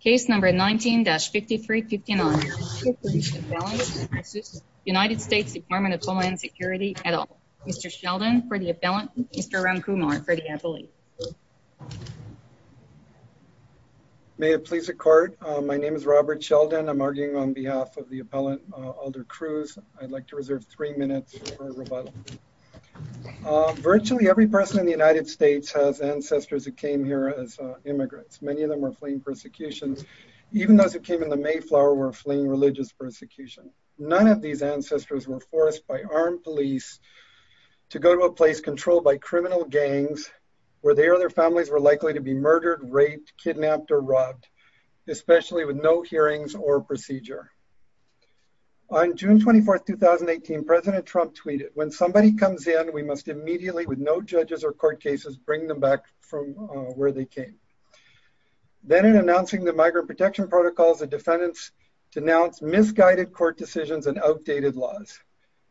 Case No. 19-5359 is for Mr. Sheldon for the appellant and Mr. Ramkumar for the appellate. May it please the court. My name is Robert Sheldon. I'm arguing on behalf of the appellant Alder Cruz. I'd like to reserve three minutes for rebuttal. Virtually every person in the Even those who came in the Mayflower were fleeing religious persecution. None of these ancestors were forced by armed police to go to a place controlled by criminal gangs where they or their families were likely to be murdered, raped, kidnapped, or robbed, especially with no hearings or procedure. On June 24, 2018, President Trump tweeted, when somebody comes in, we must immediately, with no judges or court cases, bring them back from where they came. Then in announcing the Migrant Protection Protocol, the defendants denounced misguided court decisions and outdated laws.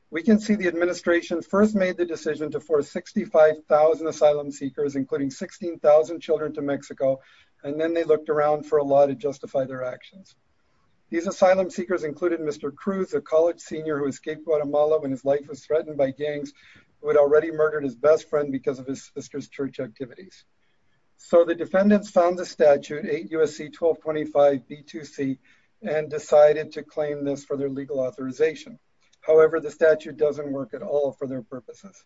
We can see the administration first made the decision to force 65,000 asylum seekers, including 16,000 children, to Mexico, and then they looked around for a law to justify their actions. These asylum seekers included Mr. Cruz, a college senior who escaped Guatemala when his life was threatened by gangs, who had already murdered his best friend because of his sister's church activities. So the defendants found the statute, 8 U.S.C. 1225 B2C, and decided to claim this for their legal authorization. However, the statute doesn't work at all for their purposes.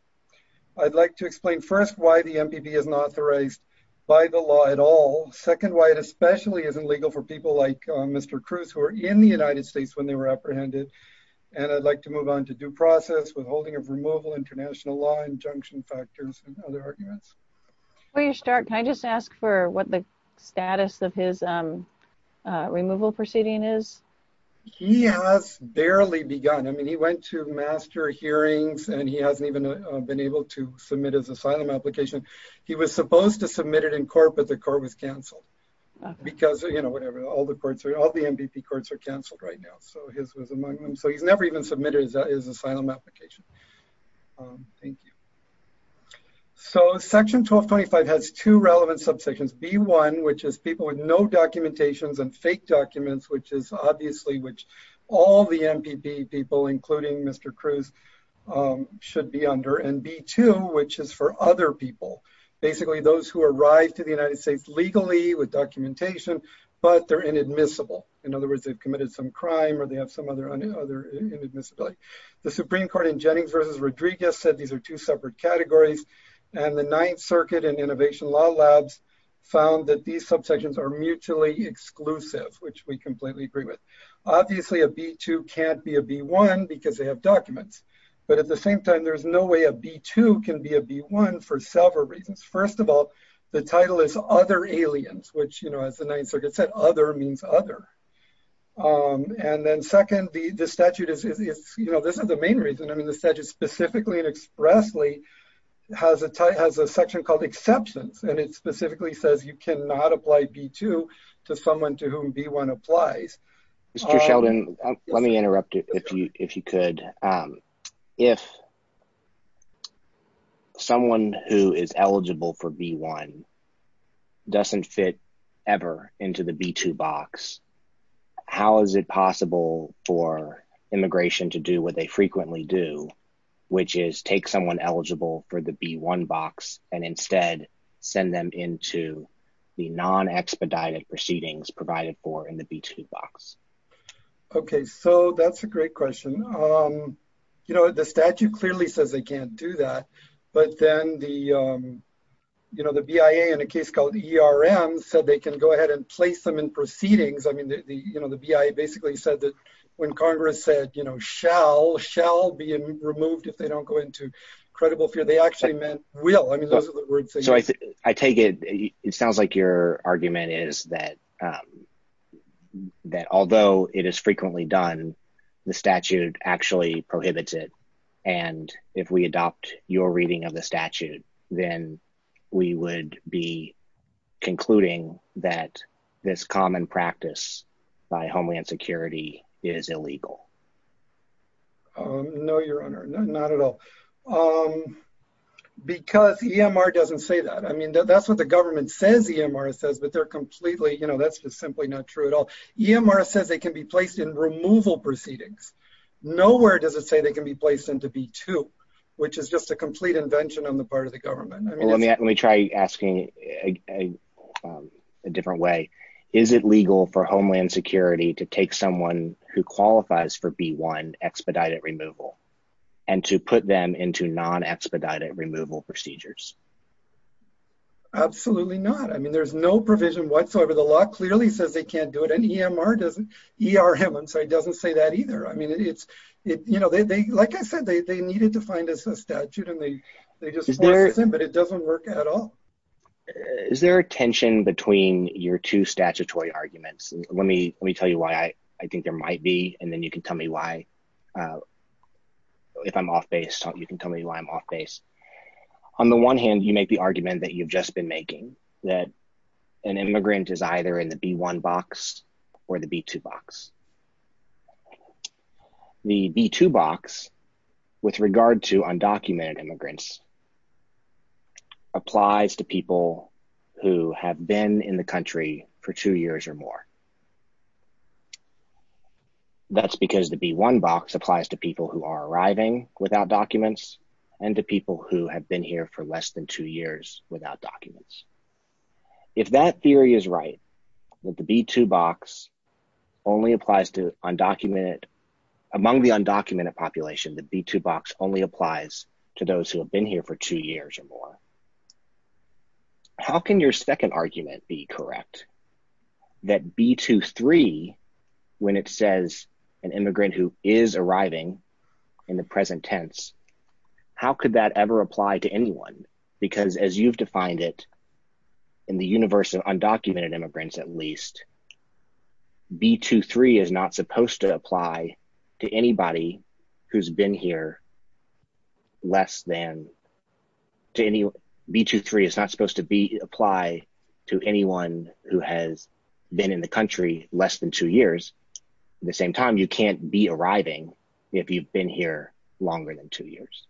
I'd like to explain, first, why the MPP isn't authorized by the law at all. Second, why it especially isn't legal for people like Mr. Cruz, who were in the United States when they were apprehended. And I'd like to move on to due process, withholding of removal, international law, injunction factors, and other arguments. Before you start, can I just ask for what the status of his removal proceeding is? He has barely begun. I mean, he went to master hearings, and he hasn't even been able to submit his asylum application. He was supposed to submit it in court, but the court was canceled because all the MPP courts are canceled right now. So his was among them. So he's never even submitted his asylum application. Thank you. So Section 1225 has two relevant subsections. B1, which is people with no documentations and fake documents, which is obviously which all the MPP people, including Mr. Cruz, should be under. And B2, which is for other people, basically those who arrived to the United States legally with documentation, but they're inadmissible. In other words, they've committed some crime or they have some other inadmissibility. The Supreme Court in Jennings versus Rodriguez said these are two separate categories. And the Ninth Circuit and Innovation Law Labs found that these subsections are mutually exclusive, which we completely agree with. Obviously a B2 can't be a B1 because they have documents. But at the same time, there's no way a B2 can be a B1 for several reasons. First of all, the title is Other Aliens, which as the Ninth Circuit said, Other means other. And then second, the statute is, this is the main reason. I mean, the statute specifically and expressly has a section called exceptions and it specifically says you cannot apply B2 to someone to whom B1 applies. Mr. Sheldon, let me interrupt if you could. If someone who is eligible for B1 doesn't fit ever into the B2 box, how is it possible for immigration to do what they frequently do, which is take someone eligible for the B1 box and instead send them into the non-expedited proceedings provided for in the B2 box? Okay. So that's a great question. You know, the statute clearly says they can't do that, but then the BIA in a case called ERM said they can go ahead and place them in proceedings. I mean, the BIA basically said that when Congress said, you know, shall, shall be removed if they don't go into credible fear, they actually meant will. I mean, those are the words they use. I take it, it sounds like your argument is that although it is frequently done, the statute actually prohibits it. And if we adopt your reading of the statute, then we would be concluding that this common practice by Homeland Security is illegal. No, Your Honor, not at all. Because EMR doesn't say that. I mean, that's what the government says EMR says, but they're completely, you know, that's just simply not true at all. EMR says they can be placed in removal proceedings. Nowhere does it say they can be placed into B2, which is just a complete invention on the part of the government. Let me try asking a different way. Is it legal for Homeland Security to take someone who qualifies for B1 expedited removal and to put them into non-expedited removal procedures? Absolutely not. I mean, there's no provision whatsoever. The law clearly says they can't and EMR doesn't. ERM doesn't say that either. I mean, it's, you know, they, like I said, they needed to find us a statute and they just, but it doesn't work at all. Is there a tension between your two statutory arguments? Let me tell you why I think there might be, and then you can tell me why. If I'm off base, you can tell me why I'm off base. On the one hand, you make the argument that you've just been making, that an immigrant is either in the B1 box or the B2 box. The B2 box with regard to undocumented immigrants applies to people who have been in the country for two years or more. That's because the B1 box applies to people who are arriving without documents and the people who have been here for less than two years without documents. If that theory is right, that the B2 box only applies to undocumented, among the undocumented population, the B2 box only applies to those who have been here for two years or more. How can your second argument be correct? That B2-3, when it says an immigrant who is arriving in the present tense, how could that ever apply to anyone? Because as you've defined it in the universe of undocumented immigrants at least, B2-3 is not supposed to apply to anyone who has been in the country less than two years. At the same time, you can't be arriving if you've been here longer than two years.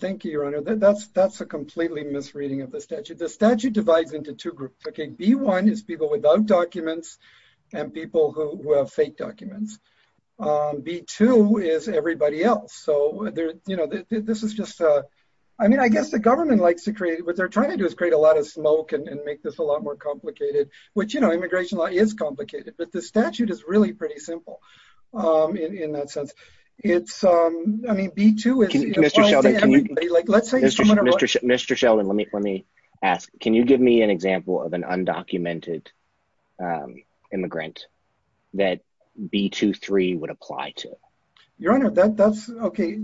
Thank you, your honor. That's a completely misreading of the statute. The statute divides into two groups. B1 is people without documents and people who have fake documents. B2 is everybody else. I guess the government likes to create, what they're trying to do is create a lot of smoke and make this a lot more complicated. Immigration law is complicated, but the statute is really pretty simple in that sense. Mr. Sheldon, let me ask. Can you give me an example of an undocumented immigrant that B2-3 would apply to? Your honor, that's okay.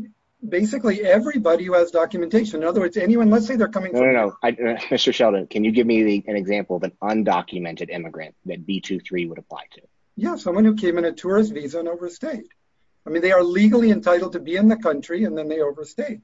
Basically, everybody who has documentation. In other words, anyone, let's say they're coming- Mr. Sheldon, can you give me an example of an undocumented immigrant that B2-3 would apply to? Yes, someone who came in a tourist visa and overstayed. They are legally entitled to be in the country and then they overstayed.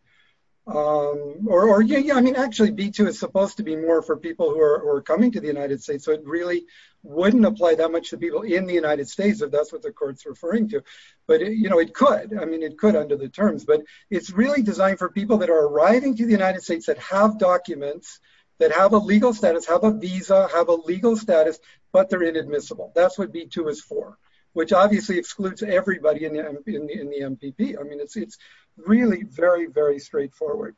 Actually, B2 is supposed to be more for people who are coming to the United States, so it really wouldn't apply that much to people in the United States, if that's what the court's referring to. It could. It could under the terms. It's really designed for people that are arriving to the United States that have documents, that have a legal status, have a visa, have a legal status, but they're inadmissible. That's what B2 is for, which obviously excludes everybody in the MPP. It's really very, very straightforward.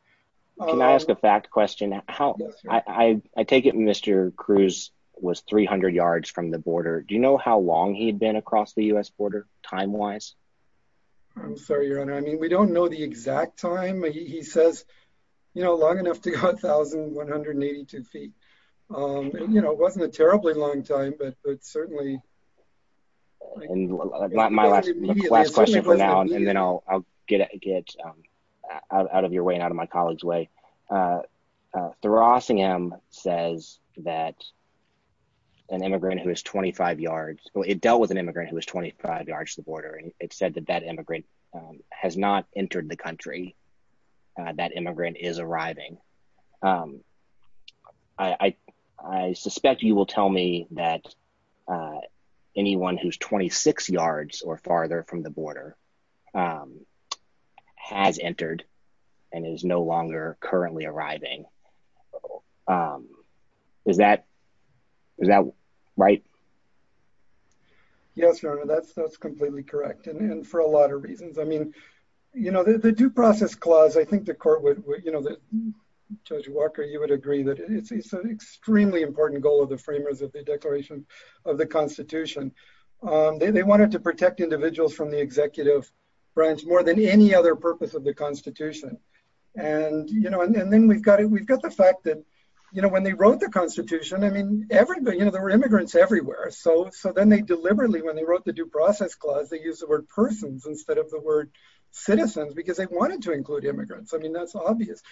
Can I ask a fact question? I take it Mr. Cruz was 300 yards from the border. Do you know how long he had been across the US border, time-wise? I'm sorry, your honor. We don't know the exact time. He says long enough to go 1,182 feet. It wasn't a terribly long time, but certainly- My last question for now, and then I'll get out of your way and out of my colleague's way. The Rossingham says that an immigrant who is 25 yards, well, it dealt with entered the country. That immigrant is arriving. I suspect you will tell me that anyone who's 26 yards or farther from the border has entered and is no longer currently arriving. Is that right? Yes, your honor. That's completely correct. For a lot of reasons. The due process clause, I think the court would... Judge Walker, you would agree that it's an extremely important goal of the framers of the Declaration of the Constitution. They wanted to protect individuals from the executive branch more than any other purpose of the Constitution. Then we've got the fact that when they wrote the Constitution, there were immigrants everywhere. Then they deliberately, when they wrote the due process clause, they used the word persons instead of the word citizens because they wanted to include immigrants. That's obvious.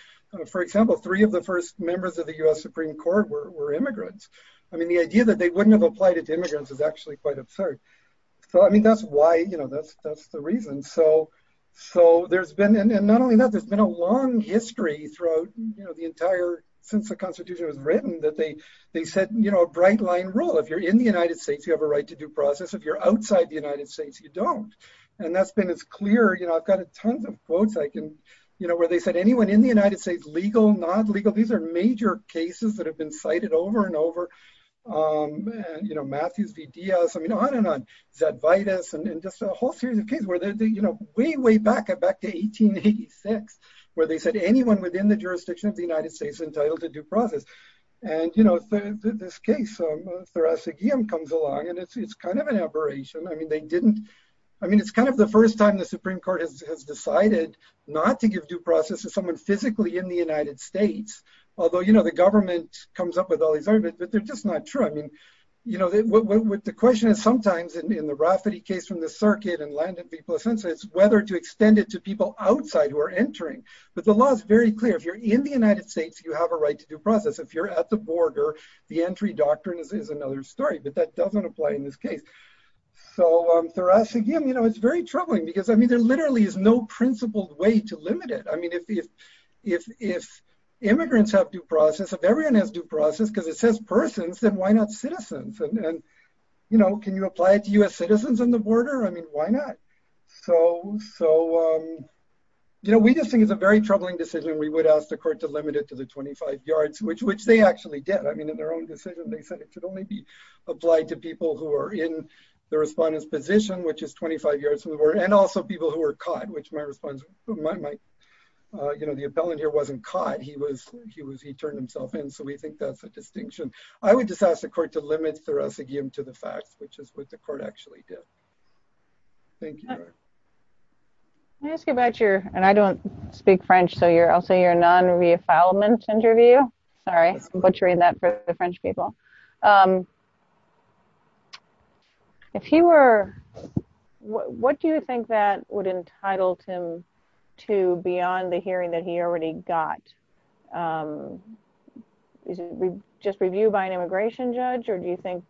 For example, three of the first members of the US Supreme Court were immigrants. The idea that they wouldn't have applied as immigrants is actually quite absurd. That's why, that's the reason. Not only that, there's been a long history throughout the entire, since the Constitution was written, that they set a bright line rule. If you're in the United States, you have a right to due process. If you're outside the United States, you don't. That's been as clear. I've got tons of quotes where they said, anyone in the United States, legal, non-legal. These are major cases that have been cited over and over. Matthews v. Diaz, on and on. Zadvidas and just a whole series of 1886, where they said, anyone within the jurisdiction of the United States entitled to due process. This case, Therasa Giam comes along and it's an aberration. It's the first time the Supreme Court has decided not to give due process to someone physically in the United States. Although, the government comes up with all these arguments, but they're just not true. The question is sometimes in the Rafferty case from the circuit and landed people a sentence, whether to extend it to people outside who are entering. The law is very clear. If you're in the United States, you have a right to due process. If you're at the border, the entry doctrine is another story, but that doesn't apply in this case. Therasa Giam, it's very troubling because there literally is no principled way to limit it. If immigrants have due process, if everyone has due process, because it says persons, then why not citizens? Can you apply it to US citizens on the border? Why not? We just think it's a very troubling decision. We would ask the court to limit it to the 25 yards, which they actually did. In their own decision, they said it could only be applied to people who are in the respondent's position, which is 25 yards, and also people who were caught, which my response, the appellant here wasn't caught. He turned himself in, so we think that's a distinction. I would just ask the court to limit Therasa Giam to the fact, which is what the court actually did. Thank you. Can I ask you about your, and I don't speak French, so I'll say your non-reaffoundment interview. Sorry, I'm butchering that for the French people. What do you think that would entitle him to beyond the hearing that he already got? Is it just review by an immigration judge, or do you think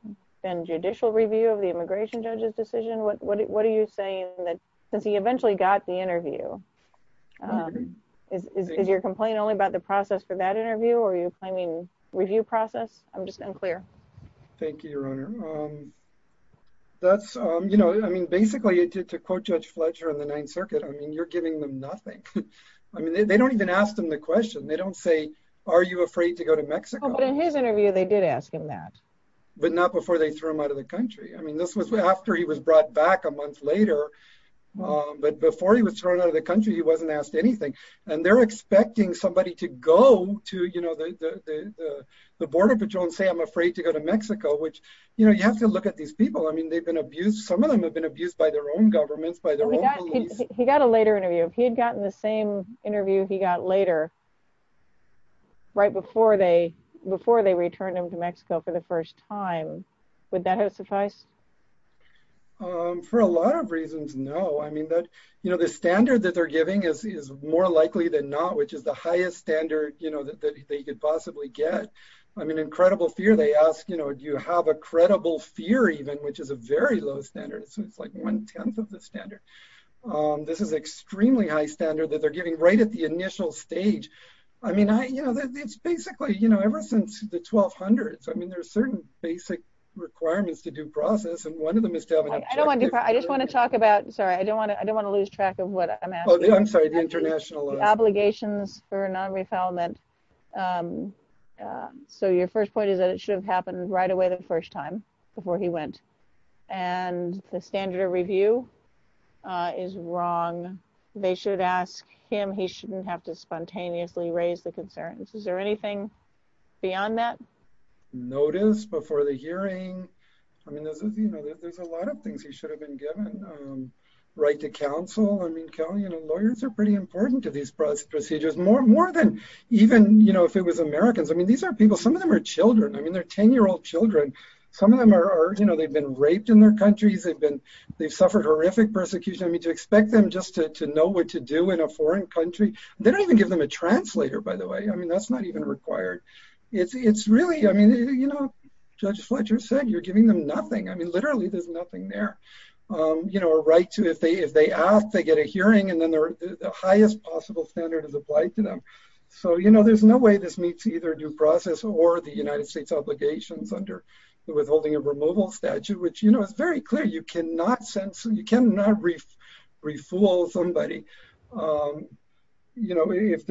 judicial review of the immigration judge's decision? What are you saying that, since he eventually got the interview, is your complaint only about the process for that interview, or are you claiming review process? I'm just unclear. Thank you, Your Honor. Basically, to quote Judge Fletcher in the Ninth Circuit, you're giving them nothing. They don't even ask them the question. They don't say, are you afraid to go to Mexico? In his interview, they did ask him that. But not before they threw him out of the country. This was after he was brought back a month later, but before he was thrown out of the country, he wasn't asked anything. They're expecting somebody to go to the border patrol and say, I'm afraid to go to Mexico, which you have to look at these people. Some of them have been abused by their own government, by their own police. He got a later interview. If he had gotten the same interview he got later, right before they returned him to Mexico for the first time, would that have sufficed? For a lot of reasons, no. The standard that they're giving is more likely than not, which is the highest standard that they could possibly get. In credible fear, they ask, do you have a credible fear even, which is a very low standard. It's like one-tenth of the standard. This is extremely high standard that they're giving right at the initial stage. It's basically, ever since the 1200s, there's certain basic requirements to due process, and one of them is to have- I just want to talk about, sorry, I don't want to lose track of what I'm asking. I'm sorry, the international- Obligations for non-refoulement. Your first point is that it should have happened right away the first time before he went, and the standard of review is wrong. They should ask him. He shouldn't have to spontaneously raise the concerns. Is there anything beyond that? Notice before the hearing. There's a lot of things he should have been given. Right to counsel. Lawyers are pretty important to these procedures, more than even if it was Americans. These are children. They're 10-year-old children. Some of them, they've been raped in their countries. They've suffered horrific persecution. To expect them just to know what to do in a foreign country, they don't even give them a translator, by the way. That's not even required. Judge Fletcher said you're giving them nothing. Literally, there's nothing there. A right to, if they ask, they get a hearing, and then the highest possible standard is applied to them. There's no way this meets either due process or the United States obligations under the withholding of removal statute, which is very clear. You cannot refool somebody. If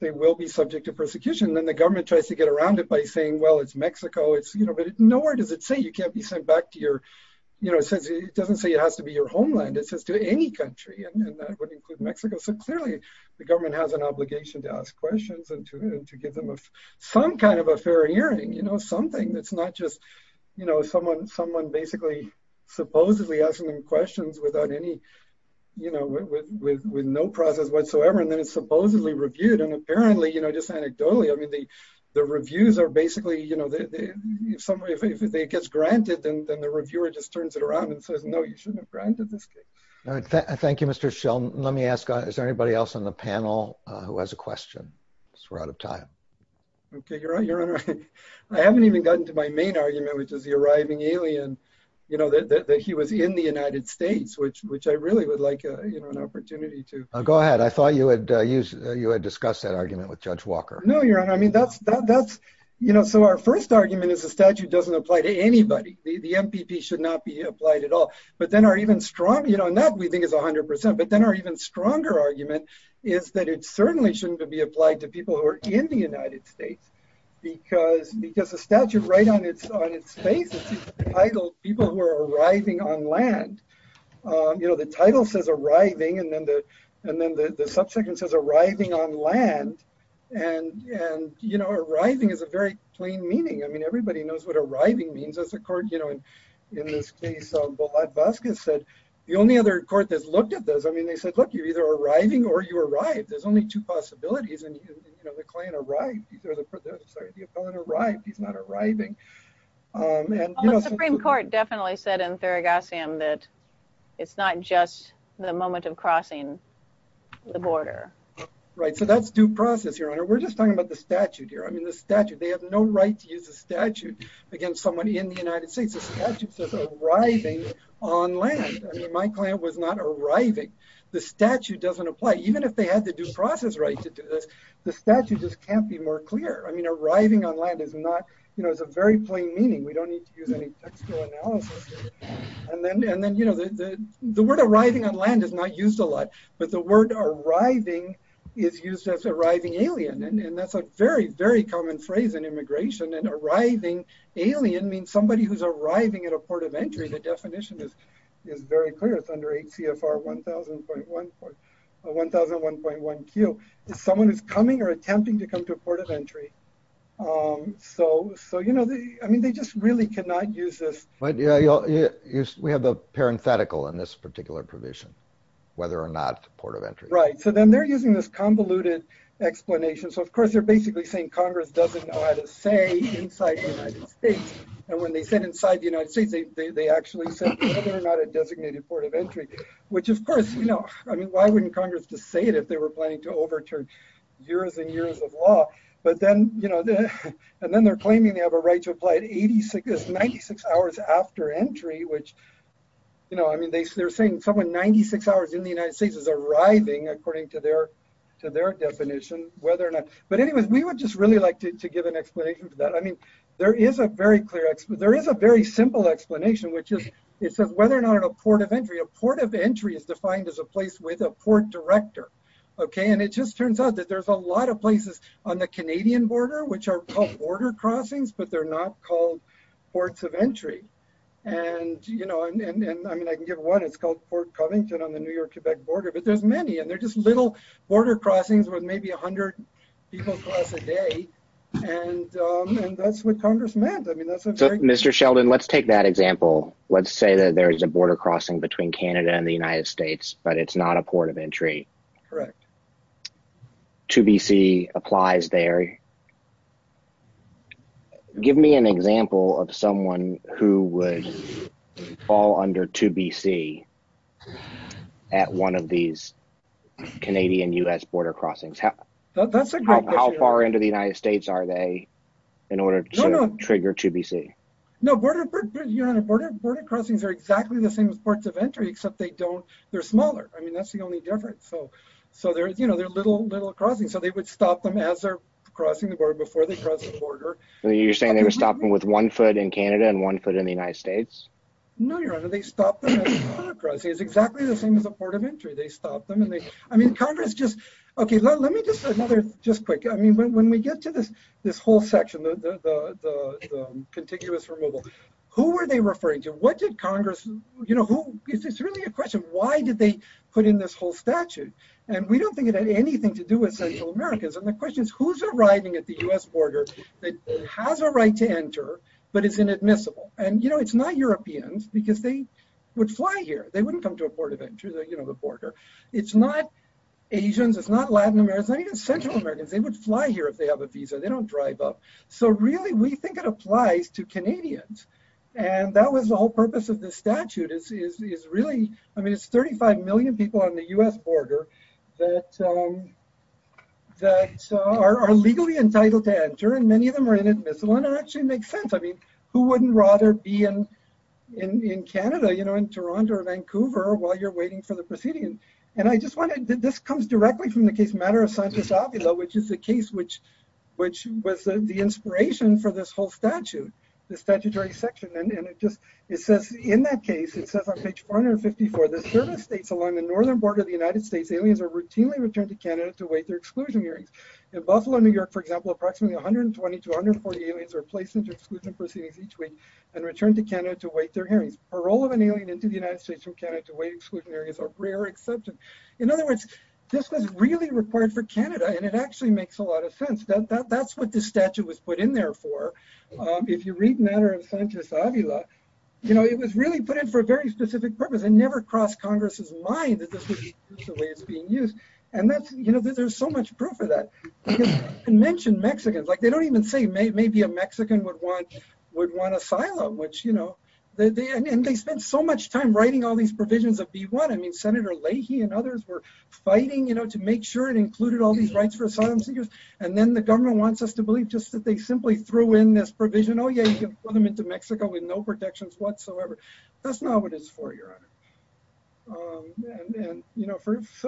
they will be subject to persecution, then the government tries to get around it by saying, well, it's Mexico. Nowhere does it say you can't be sent back. It doesn't say it has to be your obligation to ask questions and to give them some kind of a fair hearing, something that's not just someone basically supposedly asking them questions with no process whatsoever, and then it's supposedly reviewed. Apparently, just anecdotally, the reviews are basically, if it gets granted, then the reviewer just turns it around and says, no, you shouldn't have granted this case. Thank you, Mr. Schill. Let me ask, is there anybody else on the panel who has a question? We're out of time. I haven't even gotten to my main argument, which is the arriving alien, that he was in the United States, which I really would like an opportunity to- Go ahead. I thought you had discussed that argument with Judge Walker. No, Your Honor. Our first argument is the statute doesn't apply to anybody. The MPP should not be 100%, but then our even stronger argument is that it certainly shouldn't be applied to people who are in the United States, because the statute right on its face is titled people who are arriving on land. The title says arriving, and then the subsequent says arriving on land. Arriving is a very plain meaning. I mean, everybody knows what arriving means as a court. In the case of the Las Vagas case, the only other court that's looked at this, I mean, they said, look, you're either arriving or you arrived. There's only two possibilities, and the client arrived. He's not arriving. The Supreme Court definitely said in Theragosian that it's not just the moment of crossing the border. Right. So that's due process, Your Honor. We're just talking about the statute here. I mean, the statute, they have no right to use a statute against somebody in the United States. The statute says arriving on land. I mean, my client was not arriving. The statute doesn't apply. Even if they had to do process rights, the statute just can't be more clear. I mean, arriving on land is not, you know, it's a very plain meaning. We don't need to use any textual analysis. And then, you know, the word arriving on land is not used a lot, but the word arriving is used as arriving alien, and that's a very, very common phrase in immigration, and arriving alien means somebody who's arriving at a port of entry. The definition is very clear. It's under ACFR 1001.1Q. It's someone who's coming or attempting to come to a port of entry. So, you know, I mean, they just really cannot use this. But we have the parenthetical in this particular provision, whether or not it's a port of entry. Right. So then they're using this convoluted explanation. So, of course, they're basically saying Congress doesn't know how to say inside the United States, and when they said inside the United States, they actually said they're not a designated port of entry, which, of course, you know, I mean, why wouldn't Congress just say it if they were planning to overturn years and years of law? But then, you know, and then they're claiming they have a right to apply at 96 hours after entry, which, you know, I mean, they're saying someone 96 hours in the United States is arriving, according to their definition, whether or not. But anyway, we would just really like to give an explanation for that. I mean, there is a very clear, there is a very simple explanation, which is it says whether or not a port of entry, a port of entry is defined as a place with a port director. Okay. And it just turns out that there's a lot of places on the Canadian border, which are called border crossings, but they're not called ports of entry. And, you know, I mean, I can give one, it's called Port Covington on the New York-Quebec border, but there's many, and they're just little border crossings with maybe 100 people per day. And that's what Congress meant. Mr. Sheldon, let's take that example. Let's say that there is a border crossing between Canada and the United States, but it's not a port of entry. Correct. 2BC applies there. Okay. Give me an example of someone who would fall under 2BC at one of these Canadian-U.S. border crossings. How far into the United States are they in order to trigger 2BC? No, border crossings are exactly the same as ports of entry, except they don't, they're smaller. I mean, that's the only difference. So, so there's, you know, they're little, little crossings. So they would stop them as they're crossing the border before they cross the border. So you're saying they were stopping with one foot in Canada and one foot in the United States? No, Your Honor, they stopped them at the border crossing. It's exactly the same as a port of entry. They stop them and they, I mean, Congress just, okay, let me just, just quick. I mean, when we get to this, this whole section, the, the, the, the contiguous removal, who were they referring to? What did Congress, you know, who, it's really a question. Why did they put in this whole statute? And we don't think it had anything to do with Central Americans. And the question is who's arriving at the U.S. border that has a right to enter, but it's inadmissible. And, you know, it's not Europeans because they would fly here. They wouldn't come to a port of entry, you know, the border. It's not Asians. It's not Latin Americans, not even Central Americans. They would fly here if they have a visa. They don't drive up. So really we think it applies to Canadians. And that was the whole purpose of the statute is, is, is really, I mean, it's 35 million people on the U.S. border that, um, that are, are legally entitled to enter, and many of them are inadmissible. And it actually makes sense. I mean, who wouldn't rather be in, in, in Canada, you know, in Toronto or Vancouver while you're waiting for the proceedings? And I just wanted, this comes directly from the case Matter of Science-Opula, which is the case, which, which was the inspiration for this whole statute, this statutory section. And it just, it says in that case, it says on page 154, that certain states along the northern border of the United States, aliens are routinely returned to Canada to await their exclusion hearings. In Buffalo, New York, for example, approximately 120 to 140 aliens are placed into exclusion proceedings each week and returned to Canada to await their hearings. Parole of an alien into the United States from Canada to await exclusion hearings are rare exceptions. In other words, this was really required for Canada, and it actually makes a lot of sense. That, that, you read Matter of Science-Opula, you know, it was really put in for a very specific purpose and never crossed Congress's mind that this was the way it was being used. And that's, you know, there's so much proof of that. You mentioned Mexicans, like they don't even say maybe a Mexican would want, would want asylum, which, you know, they, and they spent so much time writing all these provisions of B1. I mean, Senator Leahy and others were fighting, you know, to make sure it included all these rights for asylum seekers. And then the government wants us to believe just that they simply threw in this provision. Oh, yeah, you can put them into Mexico with no protections whatsoever. That's not what it's for, Your Honor. And, you know,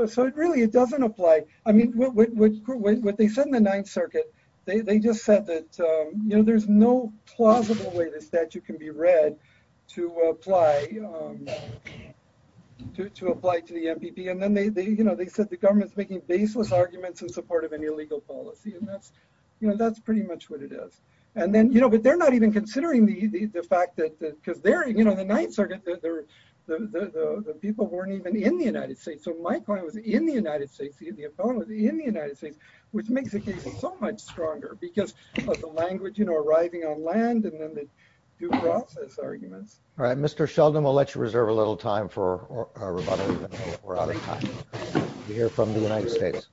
so it really, it doesn't apply. I mean, what they said in the Ninth Circuit, they just said that, you know, there's no plausible way the statute can be read to apply, to apply to the MPP. And then they, you know, they said the government's making baseless arguments in support of any legal policy. And that's, you know, that's pretty much what it is. And then, you know, but they're not even considering the fact that, because they're, you know, the Ninth Circuit, the people weren't even in the United States. So my point was in the United States, in the United States, which makes it so much stronger because of the language, you know, arriving on land and then the due process argument. All right, Mr. Sheldon, we'll let you reserve a little time for our rebuttal. We're out of time. We hear from the United States.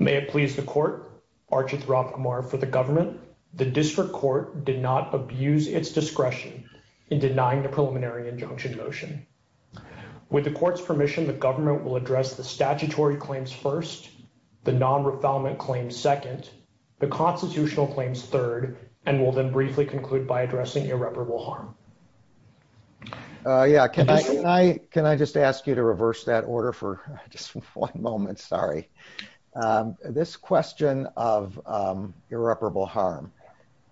May it please the court, Archie Throckmire for the government. The district court did not abuse its discretion in denying the preliminary injunction motion. With the court's permission, the government will address the statutory claims first, the non-refoulement claims second, the constitutional claims third, and will then briefly conclude by addressing irreparable harm. Oh, yeah. Can I just ask you to reverse that order for just one moment? Sorry. This question of irreparable harm,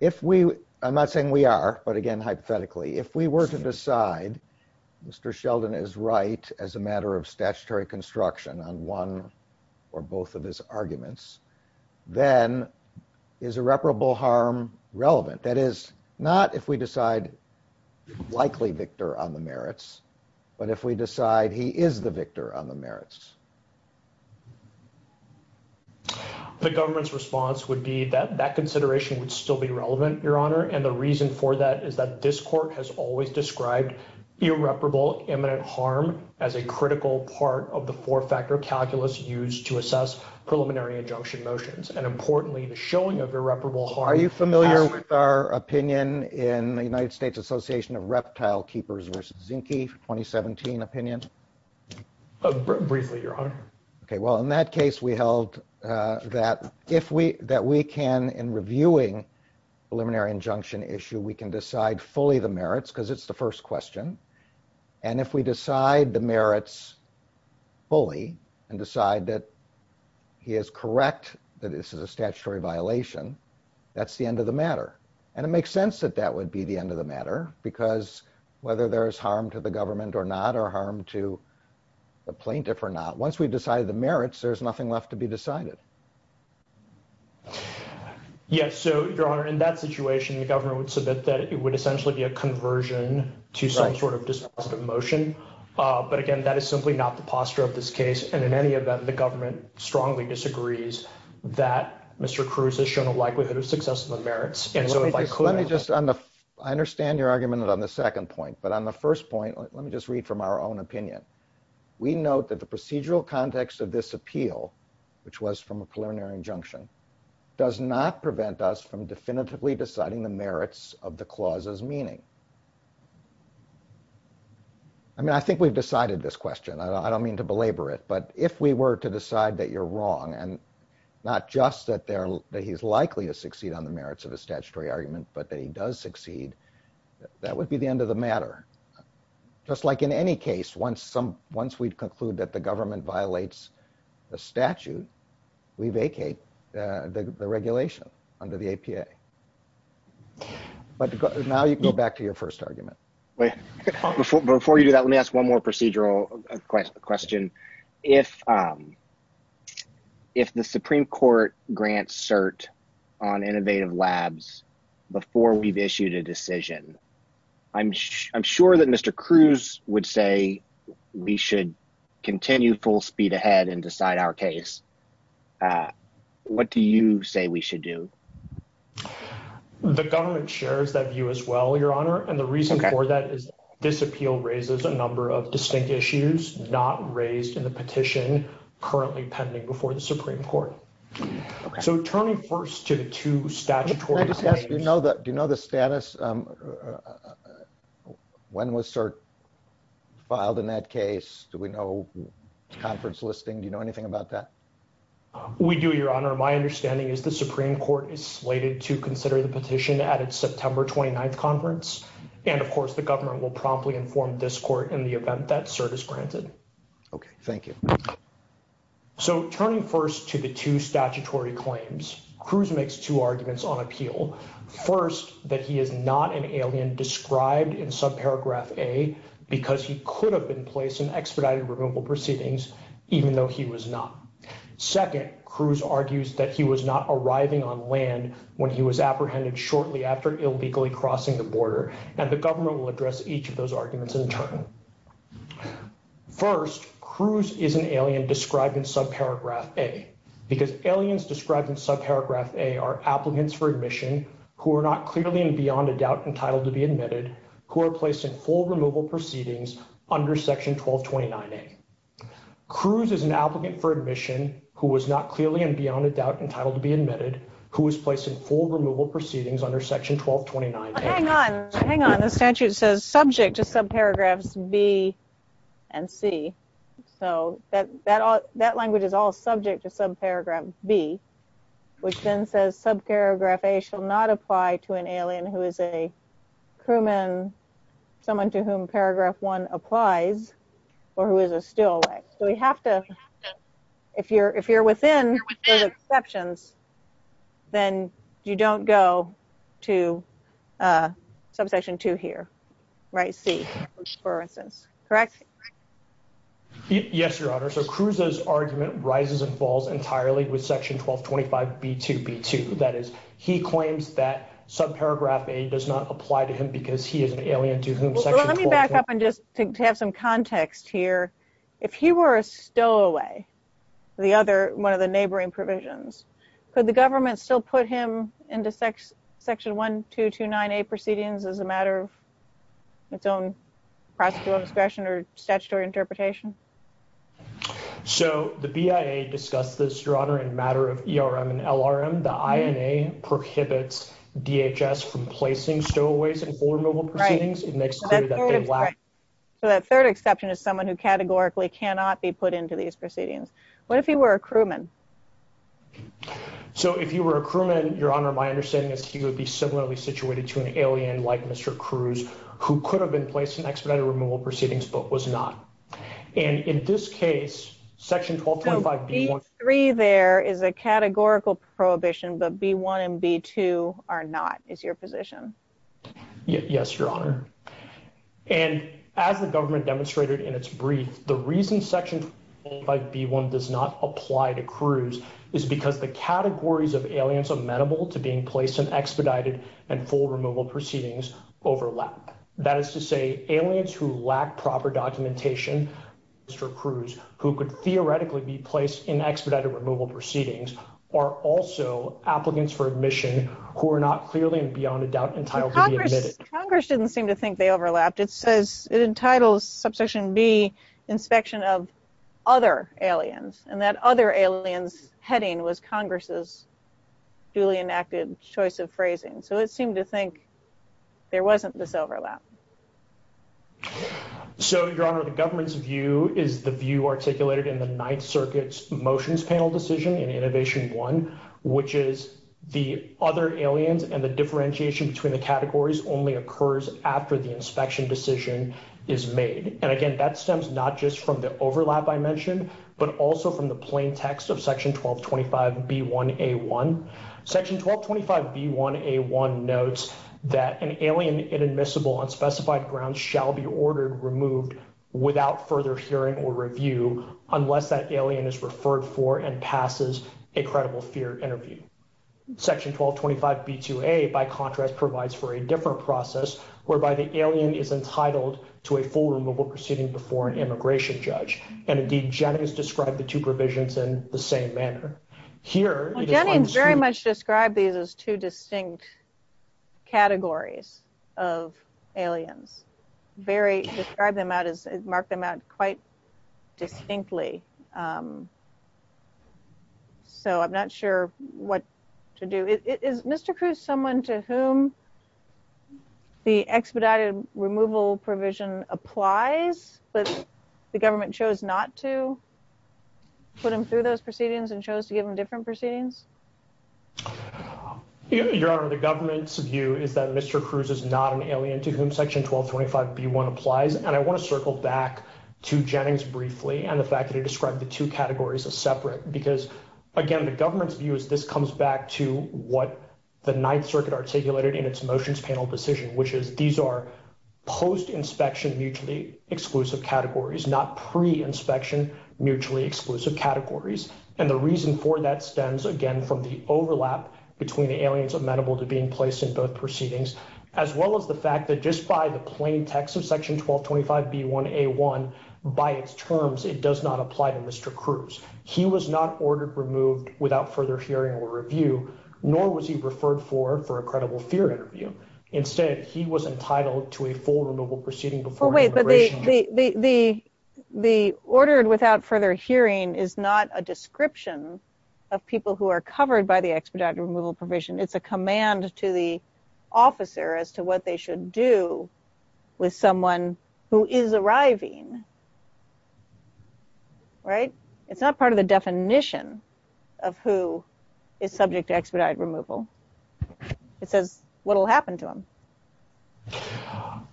if we, I'm not saying we are, but again, hypothetically, if we were to decide, Mr. Sheldon is right as a matter of statutory construction on one or both of his arguments, then is irreparable harm relevant? That is not if we decide likely victor on the merits, but if we decide he is the victor on the merits. The government's response would be that that consideration would still be relevant, Your Honor, and the reason for that is that this court has always described irreparable imminent harm as a critical part of the four-factor calculus used to assess preliminary injunction motions, and importantly, the showing of irreparable harm. Are you familiar with our opinion in the United States Association of Reptile Keepers versus Zinke 2017 opinion? Briefly, Your Honor. Okay. Well, in that case, we held that if we, that we can, in reviewing preliminary injunction issue, we can decide fully the merits because it's the first question, and if we decide the merits fully and decide that he is correct, that this is a statutory violation, that's the end of the matter, and it makes sense that that would be the end of the matter because whether there's harm to the government or not or harm to the plaintiff or not, once we've decided the merits, there's nothing left to be decided. Yes. So, Your Honor, in that situation, the government would submit that it would essentially be a conversion to some sort of dispositive motion, but again, that is simply not the posture of this case, and in any event, the government strongly disagrees that Mr. Cruz has shown a likelihood of success in the merits, and so if I could... Let me just, on the, I understand your argument on the second point, but on the first point, let me just read from our own opinion. We note that the procedural context of this appeal, which was from a preliminary injunction, does not prevent us from definitively deciding the merits of the clause's meaning. I mean, I think we've decided this question. I don't mean to belabor it, but if we were to decide that you're wrong and not just that he's likely to succeed on the merits of the statutory argument, but that he does succeed, that would be the end of the statute. We vacate the regulation under the APA, but now you can go back to your first argument. Before you do that, let me ask one more procedural question. If the Supreme Court grants cert on innovative labs before we've issued a decision, I'm sure that Mr. Cruz would say we should continue full speed ahead and decide our case. What do you say we should do? The government shares that view as well, Your Honor, and the reason for that is this appeal raises a number of distinct issues not raised in the petition currently pending before the Supreme Court. So turning first to the two statutory... Do you know the status? When was cert filed in that case? Do we know conference listing? Do you know anything about that? We do, Your Honor. My understanding is the Supreme Court is slated to consider the petition at its September 29th conference, and of course the government will promptly inform this court in the event that cert is granted. Okay, thank you. So turning first to the two statutory claims, Cruz makes two arguments on appeal. First, that he is not an alien described in subparagraph A because he could have been placed in expedited removal proceedings even though he was not. Second, Cruz argues that he was not arriving on land when he was apprehended shortly after illegally crossing the border, and the government will address each of those arguments in turn. First, Cruz is an alien described in subparagraph A because aliens described in subparagraph A are applicants for admission who are not clearly and beyond a doubt entitled to be admitted, who are placed in full removal proceedings under section 1229A. Cruz is an applicant for admission who was not clearly and beyond a doubt entitled to be admitted, who was placed in full removal proceedings under section 1229A. Hang on, hang on. The statute says subject to subparagraphs A, B, and C. So that language is all subject to subparagraph B, which then says subparagraph A shall not apply to an alien who is a crewman, someone to whom paragraph one applies, or who is a still ex. So we have to, if you're within those exceptions, then you don't go to section two here, right, C, which is where it says, correct? Yes, your honor. So Cruz's argument rises and falls entirely with section 1225B2B2. That is, he claims that subparagraph A does not apply to him because he is an alien to whom section 1225B2B2. Let me back up and just to have some context here. If he were a still away, the other, one of the neighboring provisions, could the government still put him into section 1229A proceedings as a matter of its own practical discretion or statutory interpretation? So the BIA discussed this, your honor, in a matter of ERM and LRM. The INA prohibits DHS from placing still aways in full removal proceedings. It makes clear that they lack. So that third exception is someone who categorically cannot be put into these So if you were a crewman, your honor, my understanding is he would be similarly situated to an alien like Mr. Cruz, who could have been placed in expedited removal proceedings, but was not. And in this case, section 1225B2B2B3 there is a categorical prohibition, but B1 and B2 are not, is your position? Yes, your honor. And as the government demonstrated in its brief, the reason section 1225B1 does not apply to Cruz is because the categories of aliens amenable to being placed in expedited and full removal proceedings overlap. That is to say, aliens who lack proper documentation, Mr. Cruz, who could theoretically be placed in expedited removal proceedings are also applicants for admission who are not clearly and beyond a doubt entitled to be admitted. Congress doesn't seem to think they overlapped. It says it entitles subsection B inspection of other aliens and that other aliens heading was Congress's duly enacted choice of phrasing. So it seemed to think there wasn't this overlap. So your honor, the government's view is the view articulated in the Ninth Circuit's motions panel decision in innovation one, which is the other aliens and the differentiation between the And again, that stems not just from the overlap I mentioned, but also from the plain text of section 1225B1A1. Section 1225B1A1 notes that an alien inadmissible on specified grounds shall be ordered removed without further hearing or review unless that alien is referred for and passes a credible fear interview. Section 1225B2A by contrast provides for a different process whereby the foreign immigration judge and indeed Jennings described the two provisions in the same manner. Jennings very much described these as two distinct categories of aliens. Very described them out as marked them out quite distinctly. So I'm not sure what to do. Is Mr. Cruz someone to whom the expedited removal provision applies, but the government chose not to put him through those proceedings and chose to give him different proceedings? Your honor, the government's view is that Mr. Cruz is not an alien to whom section 1225B1 applies. And I want to circle back to Jennings briefly and the fact that he described the two categories as separate. Because again, the government's view is this comes back to what the Ninth Circuit articulated in its motions panel decision, which is these are post-inspection mutually exclusive categories, not pre-inspection mutually exclusive categories. And the reason for that stems again from the overlap between the aliens amenable to being placed in both proceedings, as well as the fact that just by the plain text of section 1225B1A1 by its terms, it does not apply to Mr. Cruz. He was not ordered removed without further hearing or review, nor was he referred for for a credible theory interview. Instead, he was entitled to a full removal proceeding before the immigration. The ordered without further hearing is not a description of people who are covered by the expedited removal provision. It's a command to the officer as to what they should do with someone who is arriving. Right? It's not part of the definition of who is subject to expedited removal. It says what will happen to him.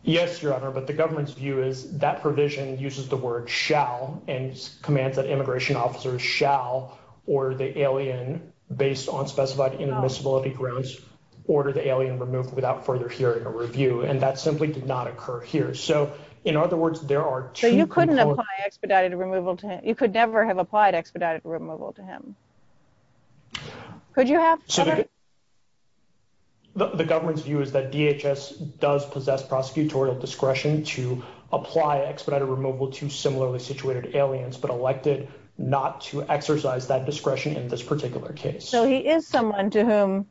Yes, Your Honor, but the government's view is that provision uses the word shall and commands that immigration officers shall order the alien based on specified intermissibility grounds, order the alien removal without further hearing or review. And that simply did not occur here. So in other words, there are two- So you couldn't apply expedited removal to him. You could never have applied expedited removal to him. Could you have? The government's view is that DHS does possess prosecutorial discretion to apply expedited removal to similarly situated aliens, but elected not to exercise that discretion in this particular case. So he is someone to whom,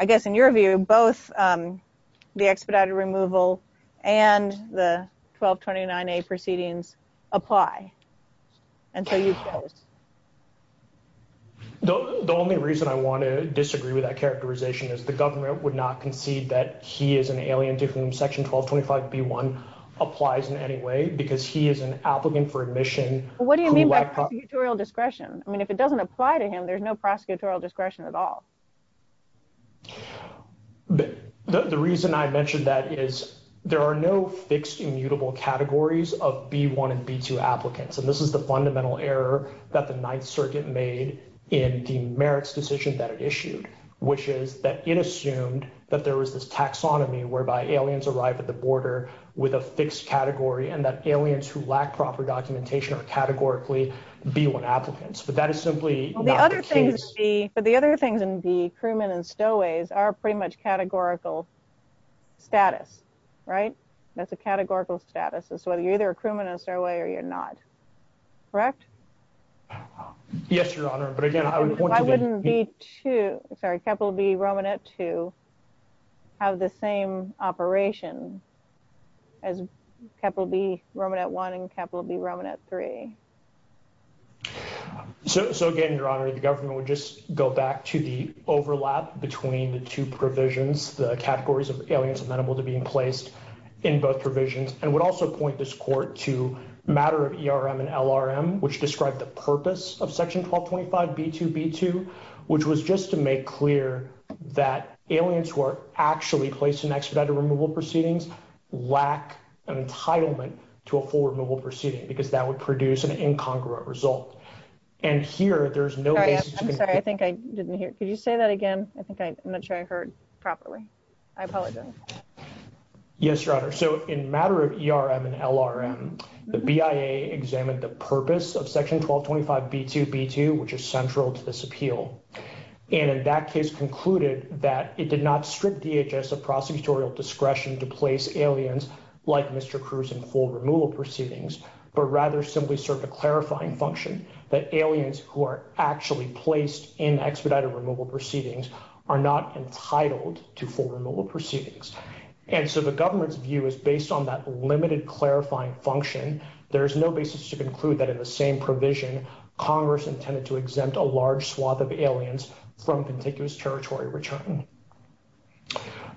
I guess, in your view, both the expedited removal and the 1229A proceedings apply. And so you've said it. The only reason I want to disagree with that characterization is the government would not concede that he is an alien to whom section 1225B1 applies in any way because he is an applicant for admission. What do you mean by prosecutorial discretion? I mean, if it doesn't apply to him, there's no prosecutorial discretion at all. The reason I mentioned that is there are no fixed immutable categories of B1 and B2 applicants. And this is the fundamental error that the Ninth Circuit made in the merits decision that it issued, which is that it assumed that there was this taxonomy whereby aliens arrived at the border with a fixed category and that aliens who lack proper documentation are categorically B1 applicants. But that is simply not the case. But the other things in B, crewmen and stowaways, are pretty much categorical status, right? That's a categorical status. So you're either a crewman and a stowaway or you're not. Correct? Yes, Your Honor. But again... Why wouldn't B2, sorry, Capital B Romanet 2, have the same operation as Capital B Romanet 1 and Capital B Romanet 3? So, again, Your Honor, the government would just go back to the overlap between the two provisions, the categories of aliens amenable to being placed in both provisions, and would also point this court to matter of ERM and LRM, which described the purpose of Section 1225 B2B2, which was just to make clear that aliens who are actually placed in expedited removal proceedings lack an entitlement to a full removal proceeding, because that would produce an incongruent result. And here, there's no... I'm sorry, I think I didn't hear. Could you say that again? I think I'm not sure I heard properly. I apologize. Yes, Your Honor. So in matter of ERM and LRM, the BIA examined the purpose of Section 1225 B2B2, which is central to this appeal, and in that case concluded that it did not strip DHS of prosecutorial discretion to place aliens like Mr. Cruz in full removal proceedings, but rather simply served a clarifying function that aliens who are actually placed in expedited removal proceedings are not entitled to full removal proceedings. And so the government's view is based on that limited clarifying function, there is no basis to conclude that in the same provision, Congress intended to exempt a large swath of aliens from contiguous territory return.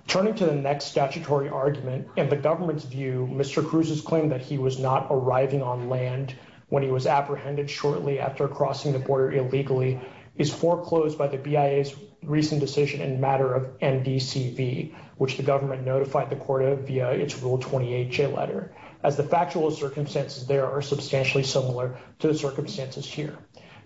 Turning to the next statutory argument, and the government's view, Mr. Cruz's claim that he was not arriving on land when he was apprehended shortly after crossing the border illegally is foreclosed by the BIA's recent decision in matter of MDCB, which the government notified the court of via its Rule 28 J letter, as the factual circumstances there are substantially similar to the circumstances here.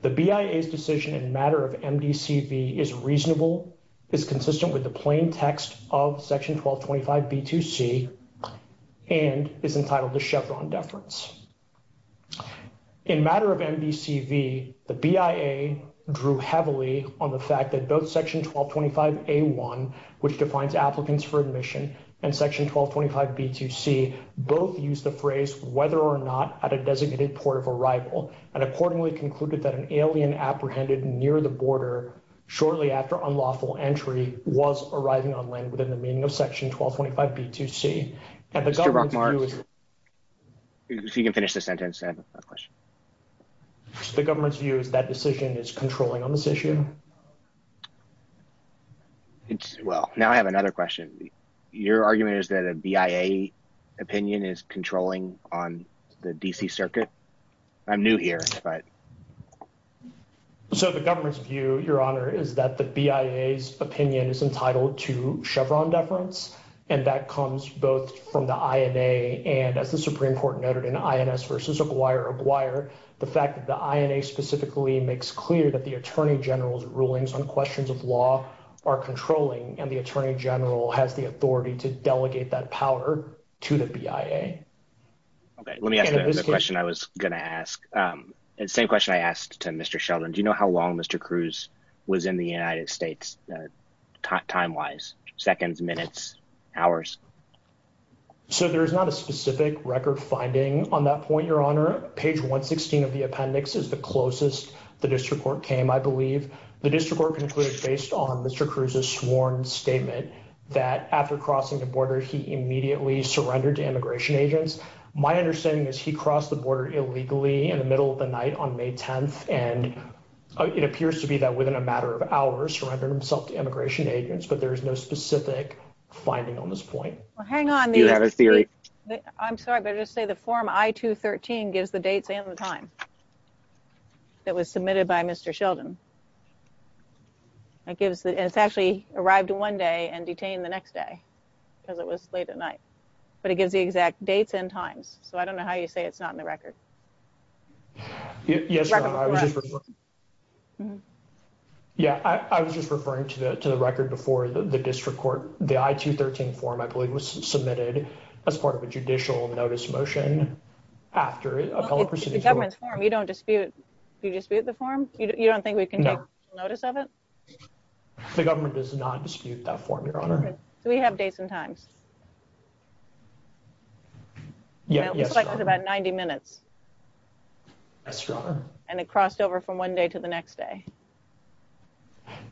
The BIA's decision in matter of MDCB is reasonable, is consistent with the plain text of Section 1225 B2C, and is entitled the Chevron Deference. In matter of MDCB, the BIA drew heavily on the fact that both Section 1225 A1, which defines applicants for admission, and Section 1225 B2C both use the that an alien apprehended near the border shortly after unlawful entry was arriving on land within the meaning of Section 1225 B2C. And the government's view is... Mr. Brockmire, if you can finish the sentence, I have a question. The government's view is that decision is controlling on this issue. Well, now I have another question. Your argument is that a BIA opinion is controlling on the D.C. Circuit? I'm new here, but... So, the government's view, Your Honor, is that the BIA's opinion is entitled to Chevron Deference, and that comes both from the INA and, as the Supreme Court noted in INS v. Oblier, the fact that the INA specifically makes clear that the Attorney General's rulings on questions of law are controlling, and the Attorney General has the authority to delegate that power to the BIA. Okay, let me ask the question I was going to ask. The same question I asked to Mr. Sheldon. Do you know how long Mr. Cruz was in the United States time-wise? Seconds, minutes, hours? So, there's not a specific record finding on that point, Your Honor. Page 116 of the appendix is the closest the District Court came, I believe. The District Court concluded, based on Mr. Cruz's surrender to immigration agents, my understanding is he crossed the border illegally in the middle of the night on May 10th, and it appears to be that within a matter of hours, he surrendered himself to immigration agents, but there is no specific finding on this point. Well, hang on. I'm sorry, but I'll just say the form I-213 gives the dates and the time that was submitted by Mr. Sheldon. It actually arrived one day and detained the next day, because it was late at night, but it gives the exact dates and time, so I don't know how you say it's not in the record. Yeah, I was just referring to the record before the District Court. The I-213 form, I believe, was submitted as part of a judicial notice motion after a public proceeding. The government's form, you don't dispute the form? You don't think we can get a notice of it? The government does not dispute that form, Your Honor. Do we have dates and time? Yeah, yes, Your Honor. It looks like it was about 90 minutes. Yes, Your Honor. And it crossed over from one day to the next day.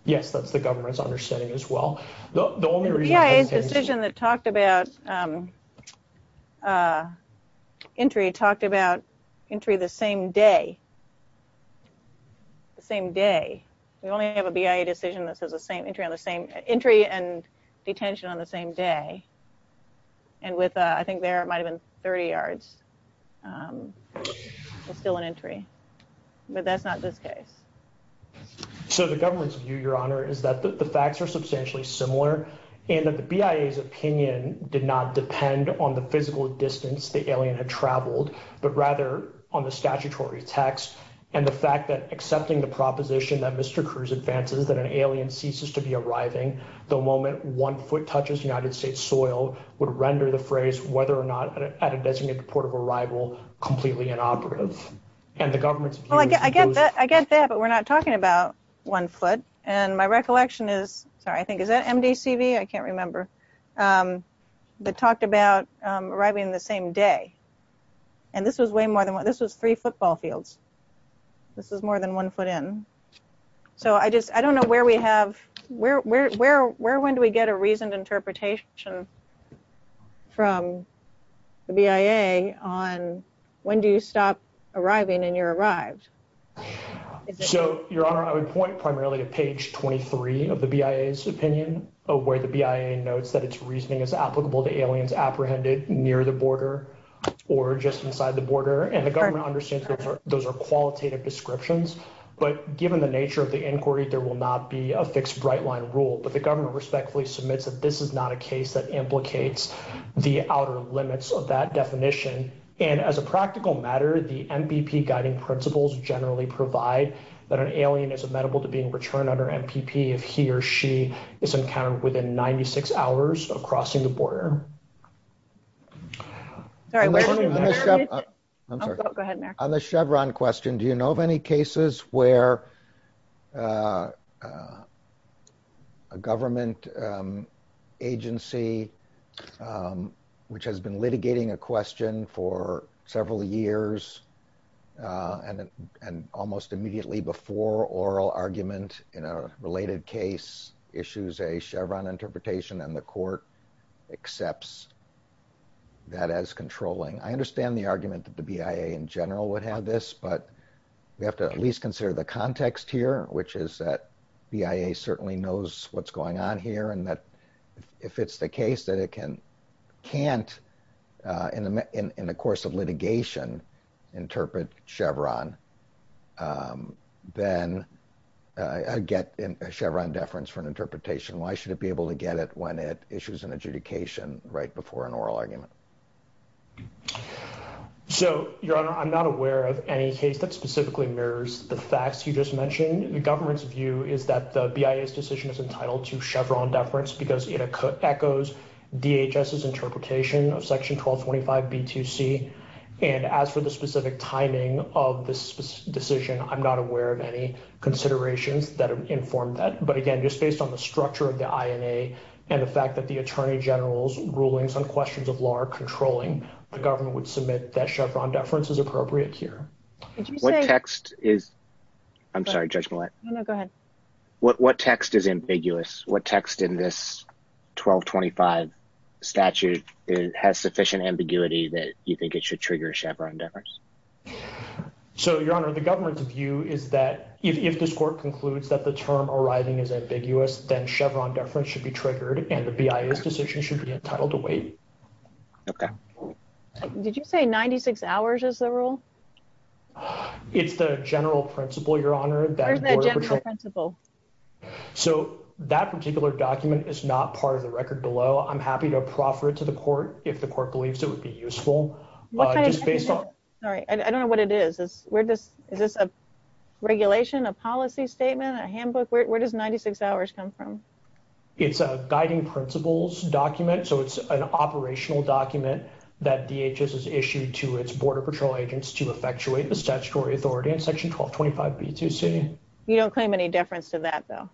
Yes, that's the governor's understanding as well. The only reason- Yeah, it's the decision that talked about entry, talked about entry the same day. We only have a BIA decision that says entry and detention on the same day. And with, I think there, it might have been 30 yards. It's still an entry, but that's not this case. So the government's view, Your Honor, is that the facts are substantially similar, and that the BIA's opinion did not depend on the physical distance the alien had traveled, but rather on the statutory text. And the fact that accepting the proposition that Mr. Cruz advances that an alien ceases to be arriving the moment one foot touches United States soil would render the phrase, whether or not at a designated port of arrival, completely inoperative. And the government's view- I get that, but we're not talking about one foot. And my recollection is, sorry, I think, is that MDCV? I can't remember. But talked about arriving the same day. And this was way more than one, this was three football fields. This was more than one foot in. So I just, I don't know where we have, where, when do we get a reasoned interpretation from the BIA on when do you stop arriving and you're arrived? So, Your Honor, I would point primarily to page 23 of the BIA's opinion of where the BIA notes that its reasoning is applicable to aliens apprehended near the border or just inside the border. And the government understands those are qualitative descriptions, but given the nature of the inquiry, there will not be a fixed right-line rule. But the government respectfully submits that this is not a case that implicates the outer limits of that definition. And as a practical matter, the MVP guiding principles generally provide that an alien is amenable to being returned under MPP if he or she is encountered within 96 hours of crossing the border. On the Chevron question, do you know of any cases where a government agency, which has been litigating a question for several years and almost immediately before oral argument in a related case issues a Chevron interpretation and the court accepts that as controlling? I understand the argument that the BIA in general would have this, but we have to at least consider the context here, which is that BIA certainly knows what's going on here. And that if it's the case that it can't in the course of litigation interpret Chevron, then I get a Chevron deference for an interpretation. Why should it be able to get it when it issues an adjudication right before an oral argument? So, Your Honor, I'm not aware of any case that specifically mirrors the facts you just mentioned. The government's view is that the BIA's decision is entitled to Chevron deference because it 1225B2C. And as for the specific timing of this decision, I'm not aware of any considerations that inform that. But again, just based on the structure of the INA and the fact that the Attorney General's rulings on questions of law are controlling, the government would submit that Chevron deference is appropriate here. What text is... I'm sorry, Judge Millett. No, no, go ahead. What text is ambiguous? What text in this 1225 statute has sufficient ambiguity that you think it should trigger Chevron deference? So, Your Honor, the government's view is that if this court concludes that the term arising is ambiguous, then Chevron deference should be triggered and the BIA's decision should be entitled to wait. Okay. Did you say 96 hours is the rule? It's the general principle, Your Honor. The general principle. So, that particular document is not part of the record below. I'm happy to proffer it to the court if the court believes it would be useful. Sorry, I don't know what it is. Is this a regulation, a policy statement, a handbook? Where does 96 hours come from? It's a guiding principles document. So, it's an operational document that DHS has issued to its Border Patrol agents to effectuate the You don't claim any deference to that, though.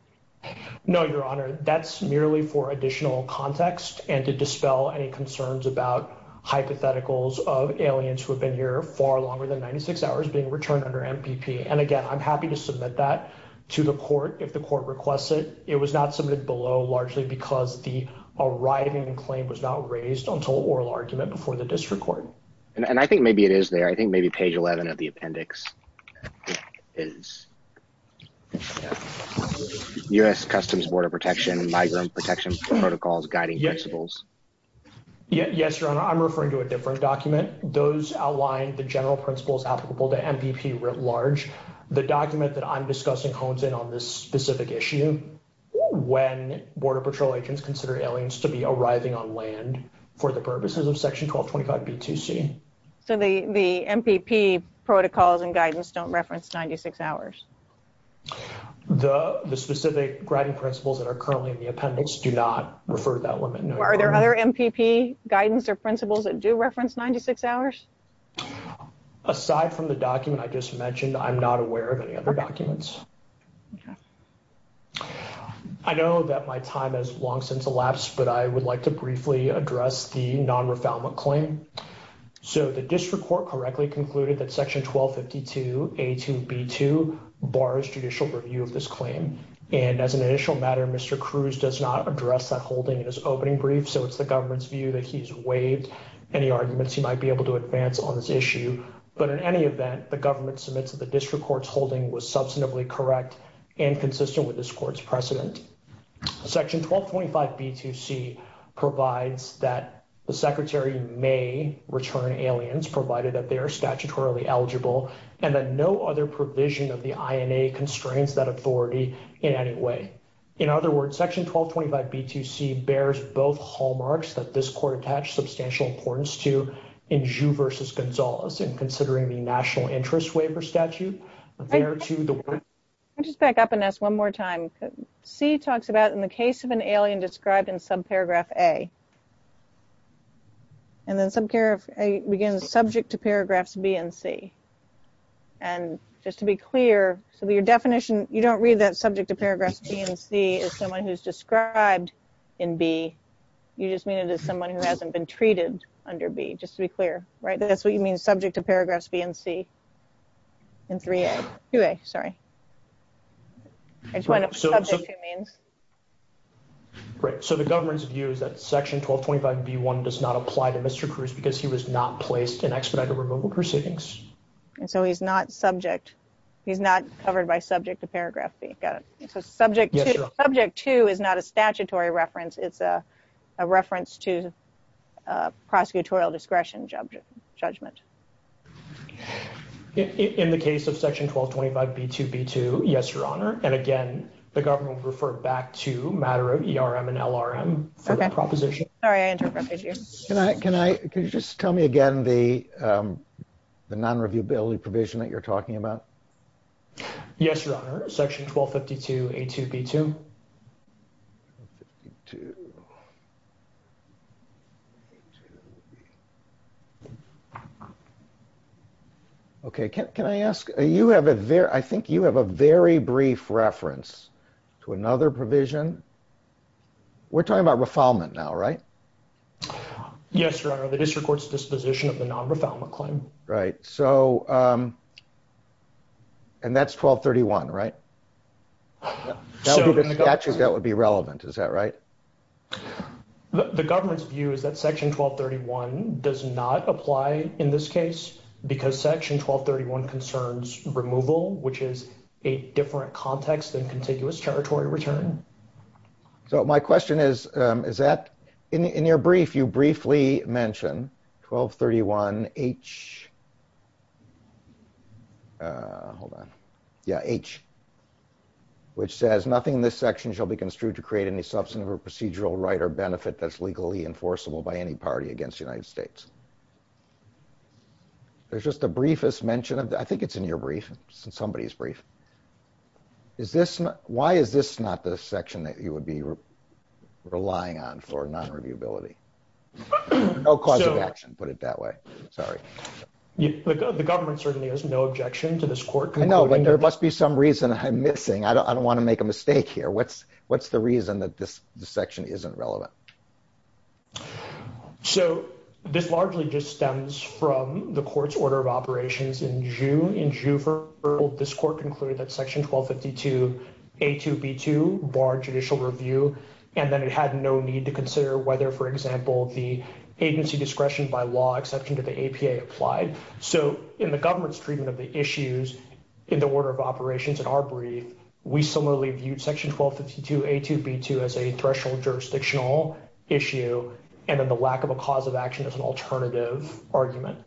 No, Your Honor. That's merely for additional context and to dispel any concerns about hypotheticals of aliens who have been here far longer than 96 hours being returned under MPP. And again, I'm happy to submit that to the court if the court requests it. It was not submitted below largely because the arriving claim was not raised until oral argument before the district court. And I think maybe it is there. I think it's there. U.S. Customs Border Protection and Guidance Protocols Guiding Principles. Yes, Your Honor. I'm referring to a different document. Those outline the general principles applicable to MPP writ large. The document that I'm discussing hones in on this specific issue when Border Patrol agents consider aliens to be arriving on land for the purposes of Section 1225 BTC. So, the MPP protocols and guidance don't reference 96 hours? The specific guiding principles that are currently in the appendix do not refer to that one. Are there other MPP guidance or principles that do reference 96 hours? Aside from the document I just mentioned, I'm not aware of any other documents. I know that my time has long since elapsed, but I would like to briefly address the non-refoulement claim. So, the district court correctly concluded that Section 1252 A2 B2 bars judicial review of this claim. And as an initial matter, Mr. Cruz does not address that holding in his opening brief. So, it's the government's view that he's waived. Any arguments he might be able to advance on this issue. But in any event, the government submits that the district court's holding was substantively correct and consistent with this court's precedent. Section 1225 B2C provides that the Secretary may return aliens, provided that they are statutorily eligible, and that no other provision of the INA constrains that authority in any way. In other words, Section 1225 B2C bears both hallmarks that this court attached substantial importance to in Zhu versus Gonzales, in considering the National Interest Waiver Statute. I'll just back up and ask one more time. C talks about in the case of an alien described in subparagraph A. And then subparagraph A begins subject to paragraphs B and C. And just to be clear, so your definition, you don't read that subject to paragraphs B and C as someone who's described in B. You just mean it as someone who hasn't been treated under B, just to be clear, right? That's what you mean subject to paragraphs B and C. And 3A. 2A, sorry. It's what subject to means. Right. So the government's view is that Section 1225 B1 does not apply to Mr. Cruz because he was not placed in expedited removal proceedings. And so he's not subject. He's not covered by subject to paragraph B. Got it. So subject to is not a statutory reference. It's a reference to prosecutorial discretion judgment. In the case of Section 1225 B2B2, yes, Your Honor. And again, the government referred back to matter of ERM and LRM proposition. Sorry, I interrupted you. Can I, can I, can you just tell me again the non-reviewability provision that you're talking about? Yes, Your Honor. Section 1252 A2B2. Okay. Can I ask, you have a very, I think you have a very brief reference to another provision. We're talking about refoulement now, right? Yes, Your Honor. The district court's disposition of the non-refoulement claim. Right. So, and that's 1231, right? That would be the 1231. Actually, that would be relevant. Is that right? The government's view is that Section 1231 does not apply in this case because Section 1231 concerns removal, which is a different context than contiguous territory return. So my question is, is that in your brief, you briefly mentioned 1231 H, uh, hold on. Yeah. H, which says nothing in this section shall be construed to create any substantive or procedural right or benefit that's legally enforceable by any party against the United States. There's just a briefest mention of, I think it's in your brief, somebody's brief. Is this, why is this not the section that you would be relying on for non-reviewability? No cause of action, put it that way. Sorry. But the government certainly has no objection to this court. I know, but there must be some reason I'm missing. I don't want to make a mistake here. What's, what's the reason that this section isn't relevant? So this largely just stems from the court's order of operations in June. In June, this court concluded that Section 1252, A2, B2 bar judicial review. And then it had no need to consider whether, for example, the agency discretion by law exception to the APA applied. So in the government's treatment of the issues in the order of operations in our brief, we similarly viewed Section 1252, A2, B2 as a threshold jurisdictional issue. And then the lack of a cause of action as an alternative argument.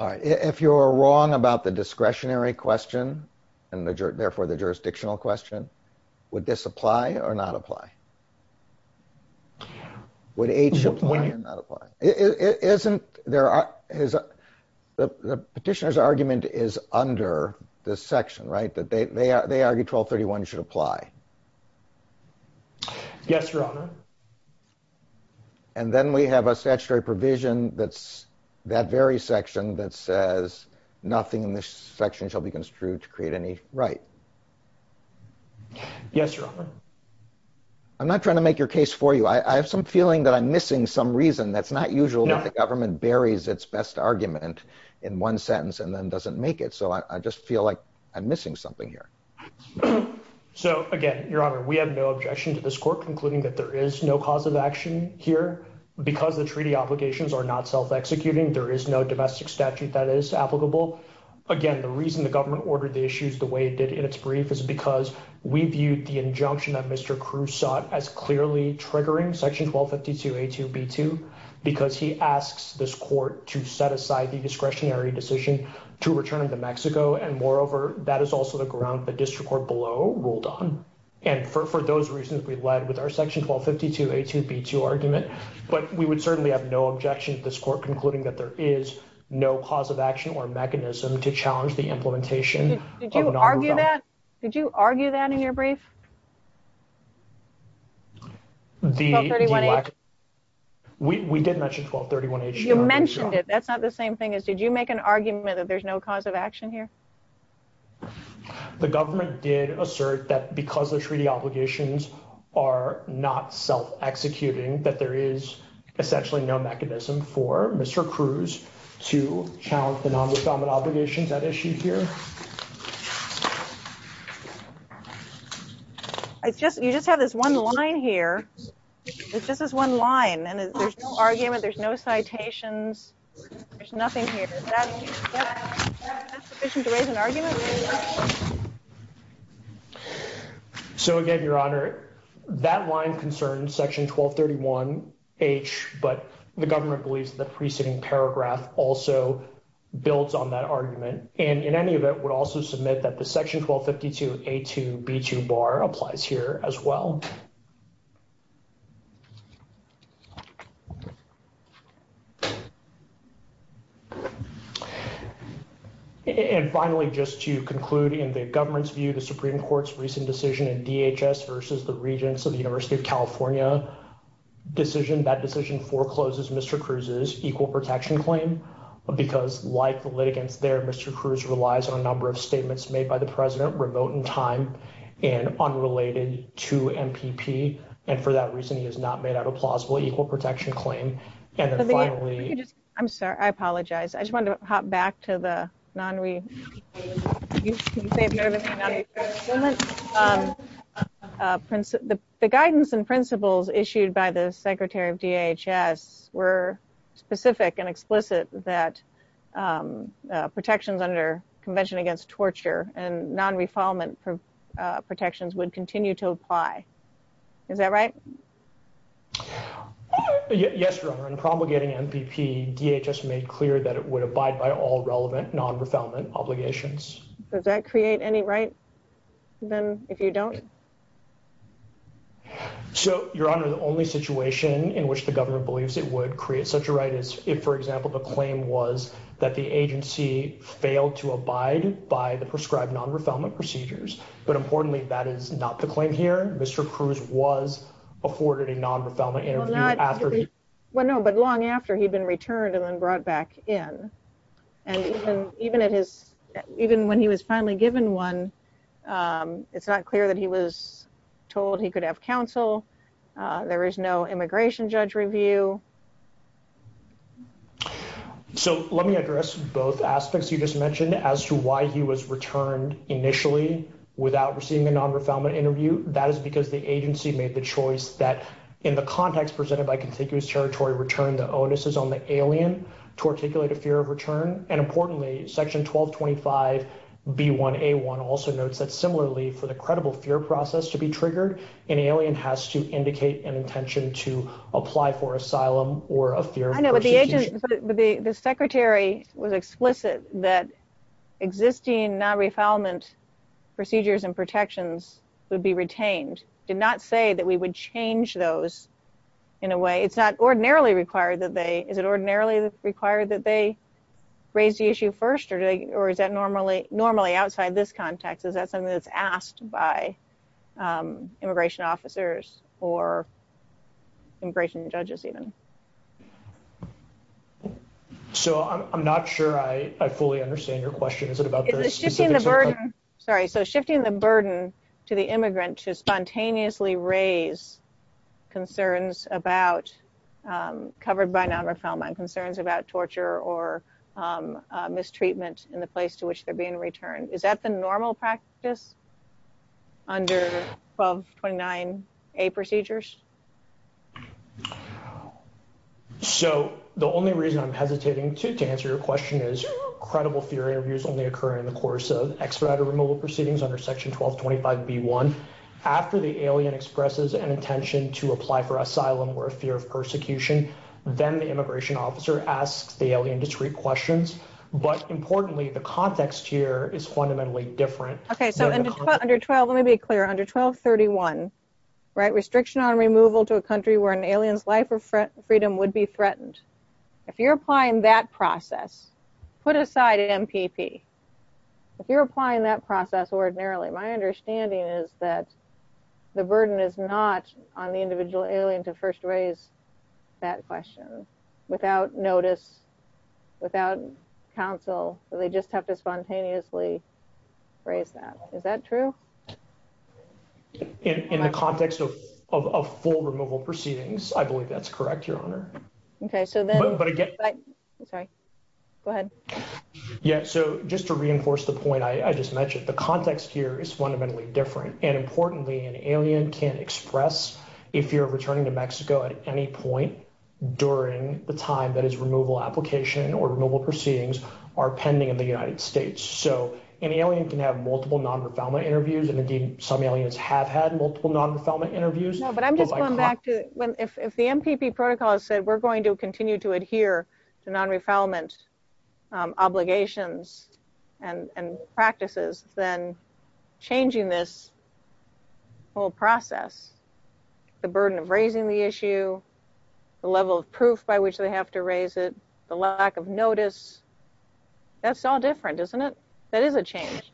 All right. If you're wrong about the discretionary question and therefore the jurisdictional question, would this apply or not apply? Would A2 apply or not apply? Isn't there, the petitioner's argument is under this section, right? That they, they, they argue 1231 should apply. Yes, Your Honor. And then we have a statutory provision that's that very section that says nothing in this section shall be construed to create any right. Yes, Your Honor. I'm not trying to make your case for you. I have some feeling that I'm missing some reason. That's not usual that the government buries its best argument in one sentence and then doesn't make it. So I just feel like I'm missing something here. So again, Your Honor, we have no objection to this court concluding that there is no cause of action here because the treaty obligations are not self-executing. There is no domestic statute that is applicable. Again, the reason the government ordered the issues the way it did in its brief is because we viewed the injunction that Mr. Cruz sought as clearly triggering section 1252A2B2 because he asks this court to set aside the discretionary decision to return to Mexico. And moreover, that is also the ground the district court below ruled on. And for those reasons, we've led with our section 1252A2B2 argument, but we would certainly have no objection to this court concluding that there is no cause of action or mechanism to challenge the implementation. Did you argue that? Did you argue that in your brief? We did mention 1231A2B2. You mentioned it. That's not the same thing as did you make an argument that there's no cause of action here? The government did assert that because the treaty obligations are not self-executing, that there is essentially no mechanism for Mr. Cruz to challenge the non-defendant obligations that issue here. You just have this one line here. It's just this one line and there's no argument. There's no citations. There's nothing here. Is that sufficient to raise an argument? So, again, Your Honor, that line concerns section 1231H, but the government believes the preceding paragraph also builds on that argument. And in any event, we'll also submit that the section 1252A2B2 bar applies here as well. And finally, just to conclude in the government's view, the Supreme Court's recent decision in DHS versus the Regents of the University of California decision, that decision forecloses Mr. Cruz's equal protection claim because like the litigants there, Mr. Cruz relies on a number of statements made by the president remote in time and unrelated to MPP. And for that reason, he has not made out a plausible equal protection claim. I'm sorry. I apologize. I just wanted to hop back to the non-re... The guidance and principles issued by the secretary of DHS were specific and explicit that protections under Convention Against Torture and non-refoulement protections would continue to apply. Is that right? Yes, Your Honor. In promulgating MPP, DHS made clear that it would abide by all relevant non-refoulement obligations. Does that create any rights, then, if you don't? So, Your Honor, the only situation in which the government believes it would create such rights is if, for example, the claim was that the agency failed to abide by the prescribed non-refoulement procedures. But importantly, that is not the claim here. Mr. Cruz was afforded a non-refoulement interview after... Well, no, but long after he'd been returned and then brought back in. And even when he was finally given one, it's not clear that he was returned. So, let me address both aspects you just mentioned as to why he was returned initially without receiving a non-refoulement interview. That is because the agency made the choice that in the context presented by contiguous territory return, the onus is on the alien to articulate a fear of return. And importantly, Section 1225B1A1 also notes that similarly for the credible fear process to be triggered, an alien has to indicate an intention to apply for asylum or a fear... I know, but the agent... But the secretary was explicit that existing non-refoulement procedures and protections would be retained. Did not say that we would change those in a way. It's not ordinarily required that they... Is it ordinarily required that they raise the issue first or is that normally outside this context? Is that something that's asked by immigration officers or immigration judges even? So, I'm not sure I fully understand your question. Is it about... Sorry. So, shifting the burden to the immigrant to spontaneously raise concerns about covered by non-refoulement, concerns about torture or mistreatment in the 1229A procedures? So, the only reason I'm hesitating to answer your question is, credible fear interviews only occur in the course of extradited removal proceedings under Section 1225B1. After the alien expresses an intention to apply for asylum or a fear of persecution, then the immigration officer asks the alien discrete questions. But importantly, the context here is fundamentally different. Okay. So, under 12... Let me be clear. Under 1231, restriction on removal to a country where an alien's life or freedom would be threatened. If you're applying that process, put aside MPP. If you're applying that process ordinarily, my understanding is that the burden is not on the individual alien to first raise that question without notice, without counsel. So, they just have to spontaneously raise that. Is that true? In the context of full removal proceedings, I believe that's correct, Your Honor. Okay. So then... Okay. Go ahead. Yeah. So, just to reinforce the point I just mentioned, the context here is fundamentally different. And importantly, an alien can express if you're returning to Mexico at any point during the time that his removal application or removal proceedings are pending in the United States. So, an alien can have multiple non-refoulement interviews. And indeed, some aliens have had multiple non-refoulement interviews. But I'm just going back to... If the MPP protocol has said we're going to continue to adhere to non-refoulement obligations and practices, then changing this whole process, the burden of raising the issue, the level of proof by which they have to raise it, the lack of notice, that's all different, isn't it? That is a change.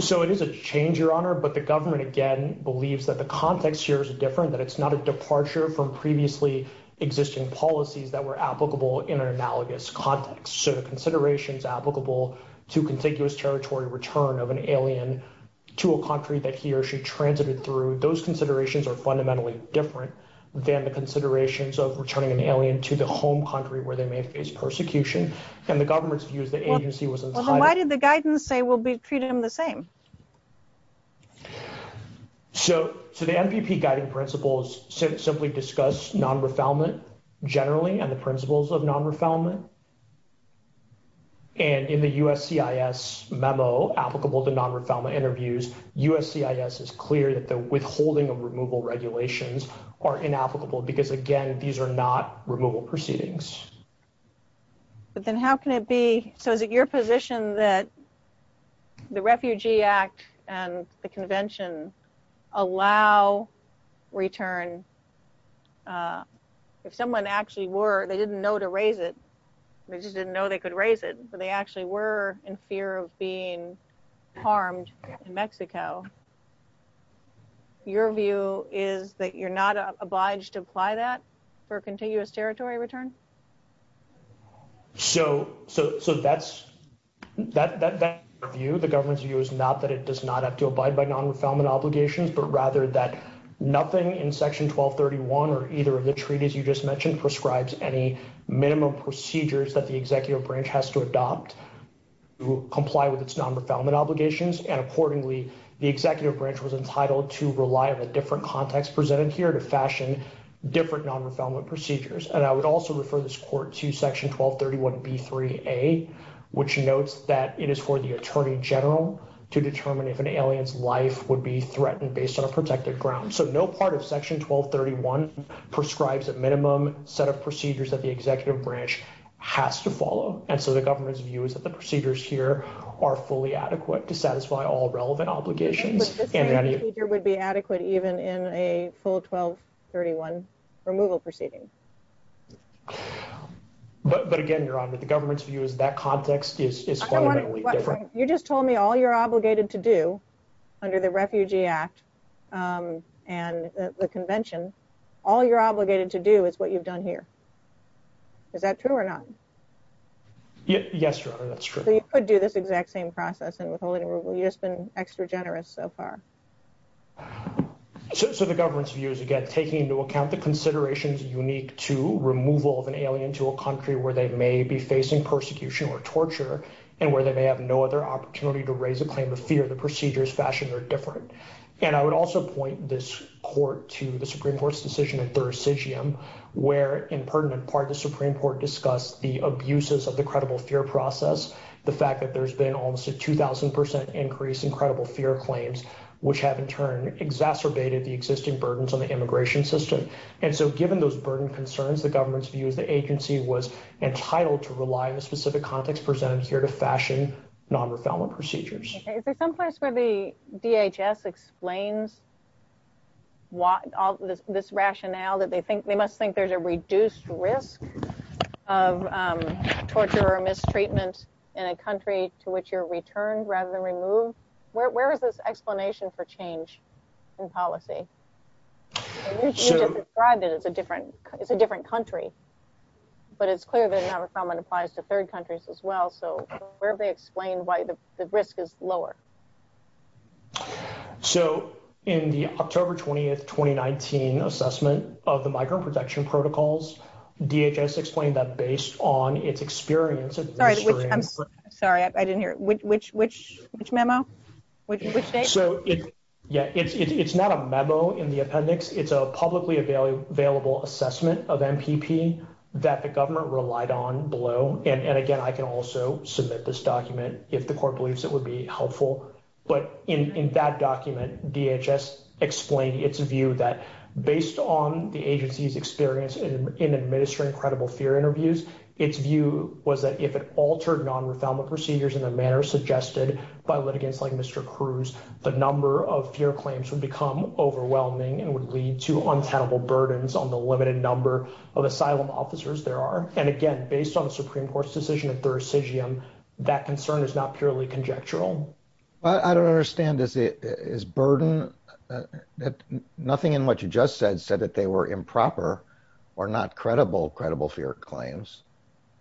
So, it is a change, Your Honor. But the government, again, believes that the context here is different, that it's not a departure from previously existing policies that were applicable in an analogous context. So, the considerations applicable to contiguous territory return of an alien to a country that he or she transited through, those considerations are fundamentally different than the considerations of returning an alien to the home country where they may face persecution. And the government's views, the agency was... Well, then why did the guidance say we'll be treating them the same? So, the MPP guiding principles simply discuss non-refoulement generally and the principles of non-refoulement. And in the USCIS memo applicable to non-refoulement interviews, USCIS is clear that the withholding of removal regulations are inapplicable because, again, these are not removal proceedings. But then how can it be... So, is it your position that the Refugee Act and the Convention allow return? If someone actually were, they didn't know to raise it. They just didn't know they could raise it. So, they actually were in fear of being harmed in Mexico. Your view is that you're not obliged to apply that for a contiguous territory return? So, that's... That view, the government's view is not that it does not have to abide by non-refoulement obligations, but rather that nothing in Section 1231 or either of the treaties you just mentioned prescribes any minimum procedures that the comply with its non-refoulement obligations. And accordingly, the executive branch was entitled to rely on a different context presented here to fashion different non-refoulement procedures. And I would also refer this court to Section 1231b3a, which notes that it is for the attorney general to determine if an alien's life would be threatened based on a protected ground. So, no part of Section 1231 prescribes a minimum set of procedures that the executive branch has to follow. And so, the government's view is that the procedures here are fully adequate to satisfy all relevant obligations. But this procedure would be adequate even in a full 1231 removal proceeding? But again, your honor, the government's view is that context is fundamentally different. You just told me all you're obligated to do under the Refugee Act and the convention, all you're obligated to do is what you've done here. Is that true or not? Yes, your honor, that's true. So, you could do this exact same process and we've just been extra generous so far. So, the government's view is, again, taking into account the considerations unique to removal of an alien to a country where they may be facing persecution or torture, and where they may have no other opportunity to raise a claim of fear, the procedures fashioned are different. And I would also point this court to the Supreme Court's decision in Thurisidium, where in pertinent part, the Supreme Court discussed the abuses of the credible fear process, the fact that there's been almost a 2000% increase in credible fear claims, which have in turn exacerbated the existing burdens on the immigration system. And so, given those burdened concerns, the government's view is the agency was entitled to rely on the specific context presented here to fashion nonrefounded procedures. Is there someplace where the DHS explains this rationale that they must think there's a reduced risk of torture or mistreatment in a country to which you're returned rather than removed? Where is this explanation for change in policy? You just described it as a different country, but it's clear that nonrefoundment applies to third countries as well. So, where do they explain why the risk is lower? So, in the October 20th, 2019 assessment of the migrant protection protocols, DHS explained that based on its experience... Sorry, I didn't hear. Which memo? Yeah, it's not a memo in the appendix. It's a publicly available assessment of MPP that the government relied on below. And again, I can also submit this document if the court believes it would be helpful. But in that document, DHS explained its view that based on the agency's experience in administering credible fear interviews, its view was that if it altered nonrefoundment procedures in a manner suggested by litigants like Mr. Cruz, the number of fear claims would become overwhelming and would lead to officers there are. And again, based on the Supreme Court's decision at the recision, that concern is not purely conjectural. I don't understand. Is burden... Nothing in what you just said said that they were improper or not credible, credible fear claims.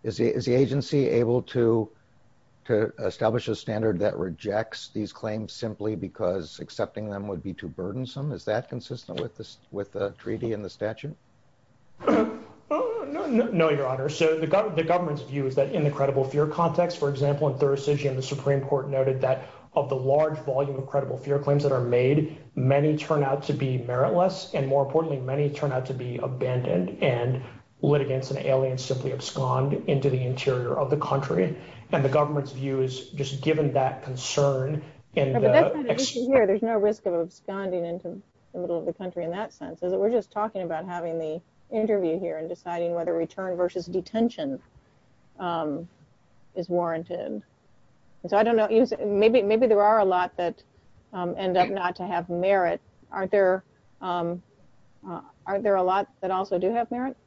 Is the agency able to establish a standard that rejects these claims simply because accepting them would be too burdensome? Is that consistent with the treaty and the statute? No, Your Honor. So the government's view is that in the credible fear context, for example, in Thursday's hearing, the Supreme Court noted that of the large volume of credible fear claims that are made, many turn out to be meritless. And more importantly, many turn out to be abandoned and litigants and aliens simply abscond into the interior of the country. And the government's view is just given that concern... There's no risk of absconding into the middle of the country in that sense. We're just talking about having the interview here and deciding whether return versus detention is warranted. So I don't know. Maybe there are a lot that end up not to have merit. Are there a lot that also do have merit?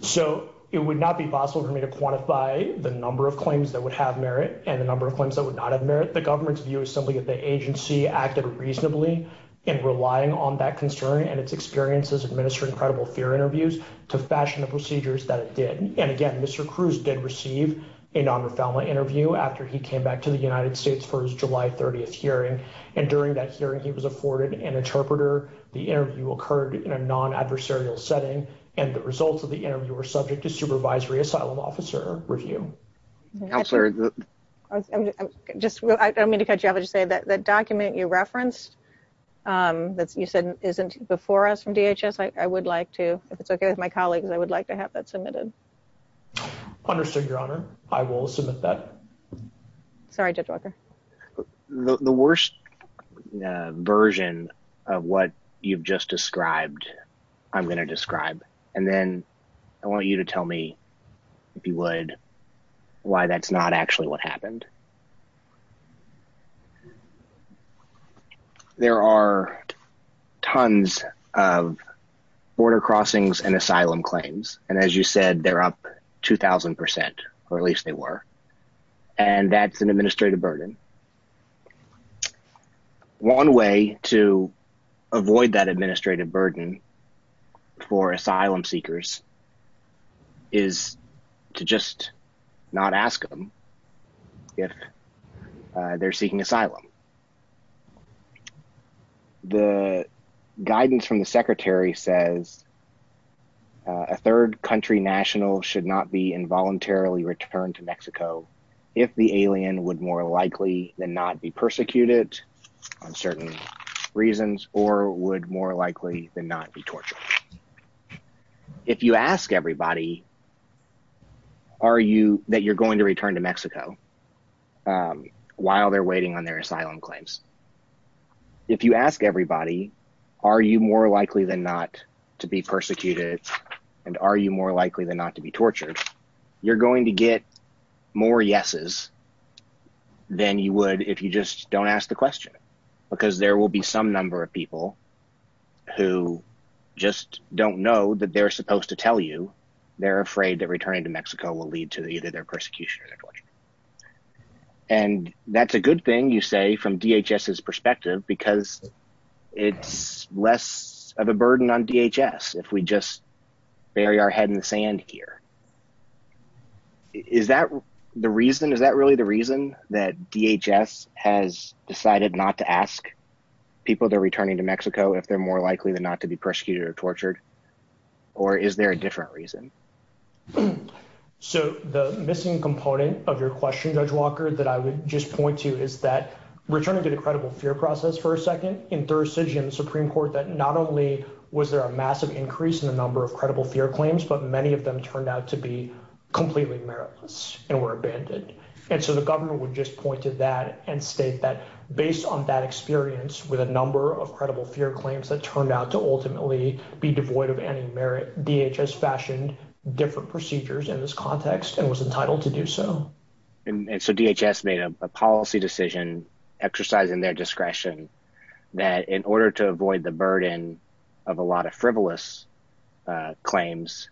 So it would not be possible for me to quantify the number of claims that would have merit and the number of claims that would not have merit. The government's view is simply that the agency acted reasonably in relying on that concern and its experience as administering credible fear interviews to fashion the procedures that it did. And again, Mr. Cruz did receive a non-government interview after he came back to the United States for his July 30th hearing. And during that hearing, he was afforded an interpreter. The interview occurred in a non-adversarial setting and the results of the interview were subject to supervisory asylum officer review. I'm going to cut you off and just say that the document you referenced that you said isn't before us from DHS, I would like to, if it's okay with my colleagues, I would like to have that submitted. Understood, Your Honor. I will submit that. Sorry, Judge Walker. The worst version of what you've just described, I'm going to describe. And then I want you to tell me, if you would, why that's not actually what happened. There are tons of border crossings and asylum claims. And as you said, they're up 2,000%, or at least they were. And that's an administrative burden. One way to avoid that administrative burden for asylum seekers is to just not ask them if they're seeking asylum. The guidance from the secretary says a third country national should not be involuntarily returned to Mexico if the alien would more likely than not be persecuted on certain reasons or would more likely than not be tortured. If you ask everybody that you're going to return to Mexico while they're waiting on their asylum claims, if you ask everybody, are you more likely than not to be persecuted and are you more you're going to get more yeses than you would if you just don't ask the question. Because there will be some number of people who just don't know that they're supposed to tell you they're afraid that returning to Mexico will lead to either their persecution or their torture. And that's a good thing, you say, from DHS's perspective, because it's less of a burden on DHS if we just bury our head in the sand here. Is that the reason, is that really the reason that DHS has decided not to ask people they're returning to Mexico if they're more likely than not to be persecuted or tortured? Or is there a different reason? So the missing component of your question, Judge Walker, that I would just point to is that returning to the credible fear process for a second, in Thursday's Supreme Court, that not only was there a massive increase in the number of credible fear claims, but many of them turned out to be completely meritless and were abandoned. And so the government would just point to that and state that based on that experience with a number of credible fear claims that turned out to ultimately be devoid of any merit, DHS fashioned different procedures in this context and was entitled to do so. And so DHS made a policy decision exercising their discretion that in order to avoid the burden of a lot of frivolous claims,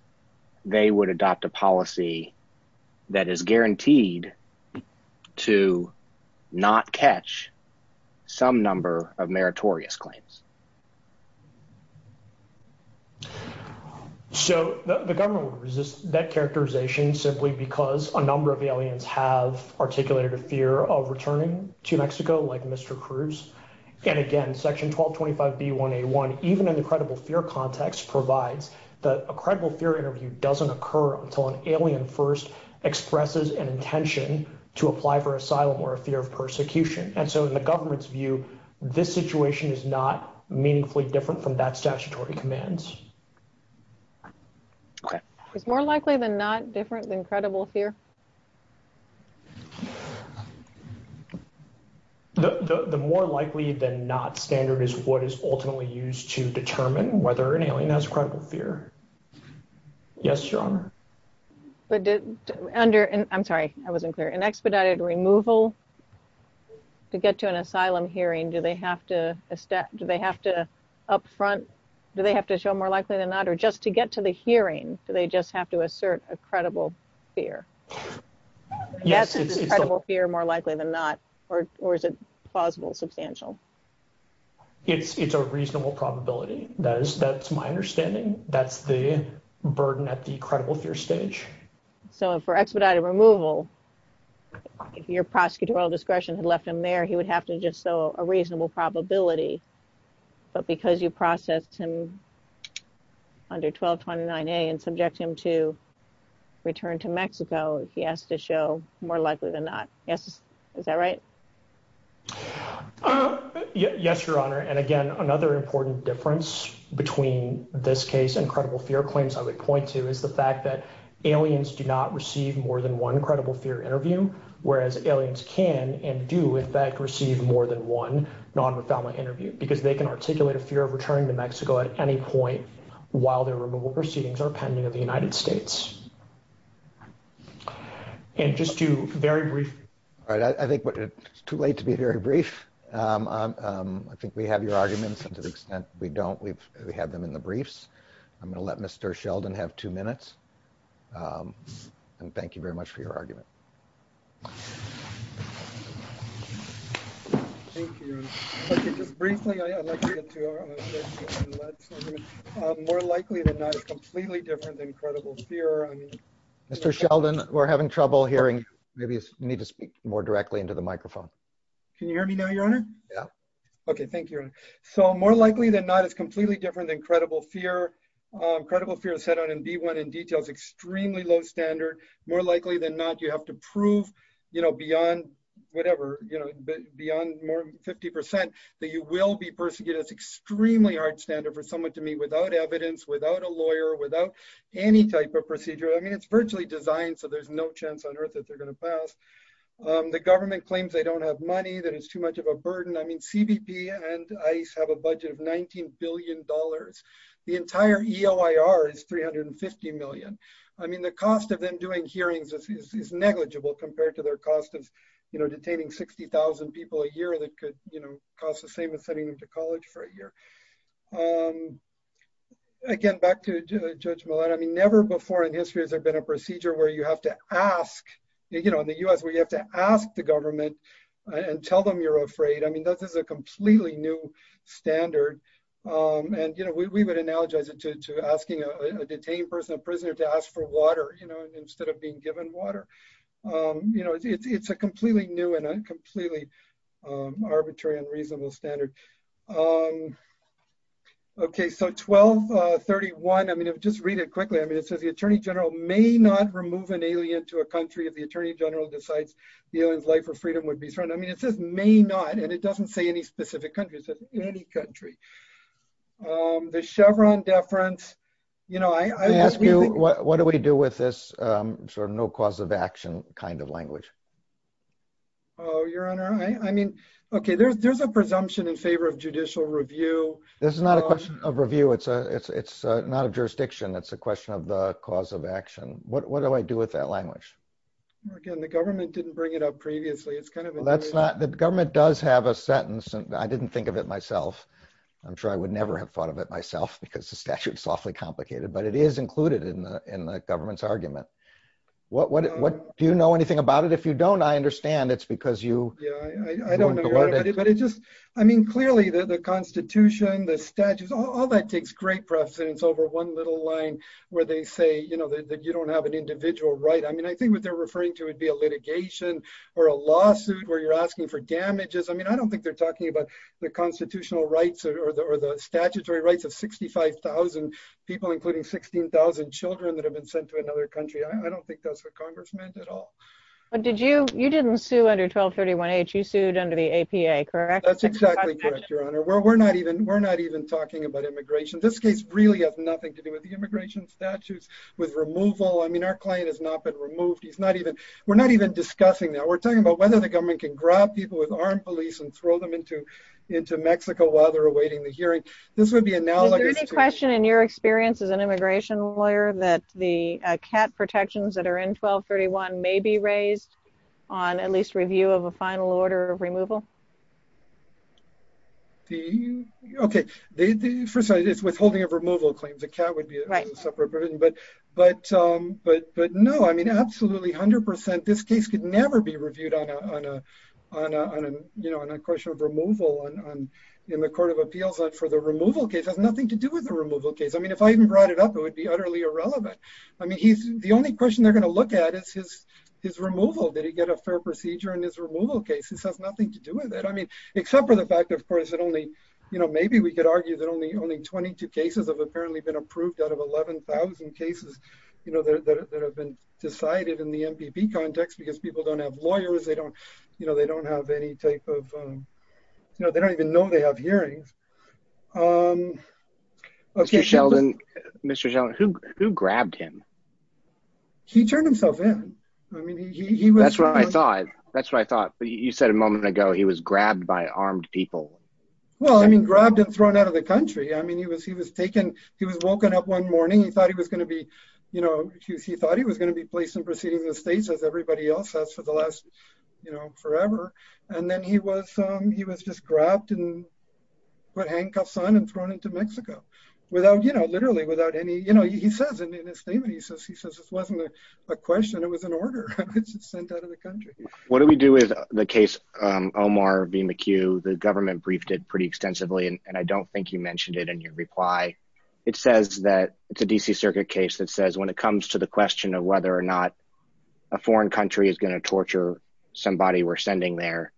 they would adopt a policy that is guaranteed to not catch some number of meritorious claims. So the government resists that characterization simply because a number of aliens have articulated a fear of returning to Mexico like Mr. Cruz. And again, Section 1225B1A1, even in the credible fear context, provides that a credible fear interview doesn't occur until an alien first expresses an intention to apply for asylum or a fear of persecution. And so in the government's view, this situation is not meaningfully different from that statutory commands. Okay. Is more likely than not different than credible fear? The more likely than not standard is what is ultimately used to determine whether an alien has a credible fear. Yes, Your Honor. I'm sorry, I wasn't clear. In expedited removal, to get to an asylum hearing, do they have to upfront, do they have to show more likely than not? Or just to get to the hearing, do they just have to assert a credible fear? Yes, it's a credible fear more likely than not. Or is it plausible, substantial? It's a reasonable probability. That's my understanding. That's the burden at the credible fear stage. So for expedited removal, if your prosecutorial discretion had left him there, he would have to just show a reasonable probability. But because you processed him under 1229A and subject him to return to Mexico, he has to show more likely than not. Is that right? Yes, Your Honor. And again, another important difference between this case and credible fear claims I would point to is the fact that aliens do not receive more than one credible fear interview. Whereas aliens can and do in fact receive more than one non-refoulement interview because they can articulate a fear of returning to Mexico at any point while their removal proceedings are pending in the United States. And just to very briefly... All right. I think it's too late to be very brief. I think we have your arguments. To the extent we don't, we have them in the briefs. I'm going to let Mr. Sheldon have two minutes. And thank you very much for your argument. Thank you. Just briefly, I'd like to get to... More likely than not, it's completely different than credible fear. Mr. Sheldon, we're having trouble hearing. Maybe you need to speak more directly into the microphone. Can you hear me now, Your Honor? Yeah. Okay. Thank you. So more likely than not, it's completely different than credible fear. Credible fear is set out in D1 in details, extremely low standard. More likely than not, you have to prove beyond more than 50% that you will be persecuted. It's extremely hard standard for someone to meet without evidence, without a lawyer, without any type of procedure. I mean, it's virtually designed so there's no chance on earth that they're going to pass. The government claims they don't have money, that it's too much of a burden. I mean, CBP and ICE have a budget of $19 billion. The entire EOIR is $350 million. I mean, the cost of them doing hearings is negligible compared to their cost of detaining 60,000 people a year that could cost the same as sending them to college for a year. Again, back to Judge Millett, I mean, never before in history has there been a procedure where you have to ask... In the US, where you have to ask the government and tell them you're afraid. I mean, that is a completely new standard. And we would analogize it to asking a detained person, a person to ask for water instead of being given water. It's a completely new and a completely arbitrary and reasonable standard. Okay, so 1231, I mean, just read it quickly. I mean, it says the Attorney General may not remove an alien to a country if the Attorney General decides the alien's life or freedom would be threatened. I mean, it says may not, and it doesn't say any of that. What do we do with this sort of no cause of action kind of language? Oh, Your Honor, I mean, okay, there's a presumption in favor of judicial review. This is not a question of review. It's not a jurisdiction. That's a question of cause of action. What do I do with that language? Again, the government didn't bring it up previously. It's kind of... That's not... The government does have a sentence, and I didn't think of it myself. I'm sure I would never have thought of it myself because the statute is awfully complicated, but it is included in the government's argument. Do you know anything about it? If you don't, I understand it's because you... Yeah, I don't know about it, but it just... I mean, clearly the Constitution, the statutes, all that takes great precedence over one little line where they say that you don't have an individual right. I mean, I think what they're referring to would be a litigation or a lawsuit where you're asking for damages. I mean, I don't think they're talking about the constitutional rights or the statutory rights of 65,000 people, including 16,000 children that have been sent to another country. I don't think that's what Congress meant at all. But did you... You didn't sue under 1231H. You sued under the APA, correct? That's exactly correct, Your Honor. We're not even talking about immigration. This case really has nothing to do with the immigration statutes, with removal. I mean, our client has not been removed. He's not even... We're not even discussing that. We're talking about whether the government can grab people with armed police and throw them into Mexico while they're awaiting the hearing. This would be a... Is there any question in your experience as an immigration lawyer that the cat protections that are in 1231 may be raised on at least review of a final order of removal? Okay. First of all, it's withholding of removal claims. A cat would be a separate provision. But no. I mean, absolutely, 100%. This case could never be reviewed on a question of removal in the Court of Appeals. But for the removal case, it has nothing to do with the removal case. I mean, if I even brought it up, it would be utterly irrelevant. I mean, the only question they're going to look at is his removal. Did he get a fair procedure in his removal case? This has nothing to do with it. I mean, except for the fact, of course, that only... Maybe we could argue that only 22 cases have apparently been approved out of 11,000 cases that have been decided in the MPP context because people don't have lawyers. They don't have any type of... No, they don't even know they have hearings. Mr. Sheldon, who grabbed him? He turned himself in. I mean, he was... That's what I thought. That's what I thought. But you said a moment ago, he was grabbed by armed people. Well, I mean, grabbed and thrown out of the country. I mean, he was taken... He was woken up one morning. He thought he was going to be placed in proceeding with the states as everybody else has for the last forever. And then he was just grabbed and handcuffed on and thrown into Mexico, literally without any... He says in his statement, he says, this wasn't a question, it was an order sent out of the country. What do we do with the case Omar v. McHugh? The government briefed it pretty extensively, and I don't think you mentioned it in your reply. It says that it's a DC circuit case that says when it comes to the question of whether or not a foreign country is going to torture somebody we're sending there,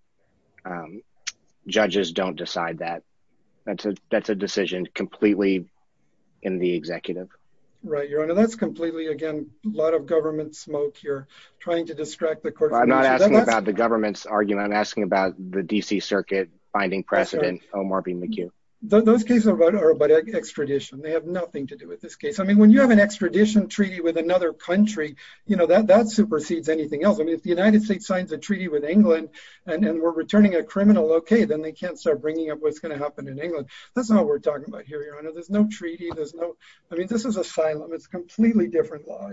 judges don't decide that. That's a decision completely in the executive. Right, Your Honor. That's completely, again, a lot of government smoke here, trying to distract the court... I'm not asking about the government's argument. I'm asking about the DC circuit finding precedent Omar v. McHugh. Those cases are about extradition. They have nothing to do with this case. I mean, when you have an extradition treaty with another country, that supersedes anything else. I mean, if the United States signs a treaty with England and we're returning a criminal, okay, then they can't start bringing up what's going to happen in England. That's not what we're talking about here, Your Honor. There's no treaty. There's no... I mean, this is asylum. It's completely different law.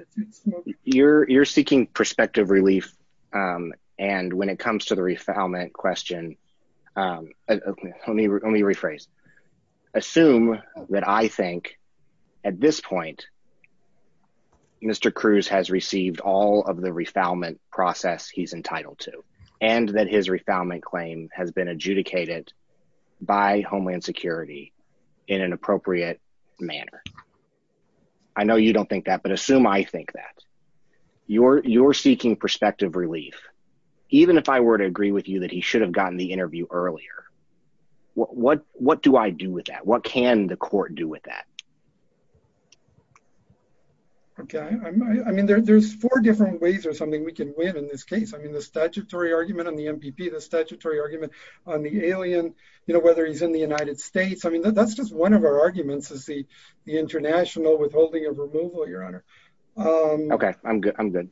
You're seeking perspective relief. And when it comes to the refoulement question, let me rephrase. Assume that I think at this point, Mr. Cruz has received all of the refoulement process he's entitled to, and that his refoulement claim has been adjudicated by Homeland Security in an appropriate manner. I know you don't think that, but assume I think that. You're seeking perspective relief. Even if I were to agree with you that he should have gotten the interview earlier, what do I do with that? What can the court do with that? Okay. I mean, there's four different ways or something we can win in this case. I mean, the statutory argument on the MPP, the statutory argument on the alien, whether he's in the United States. I mean, that's just one of our arguments is the international withholding of removal, Your Honor. Okay. I'm good. I'm good.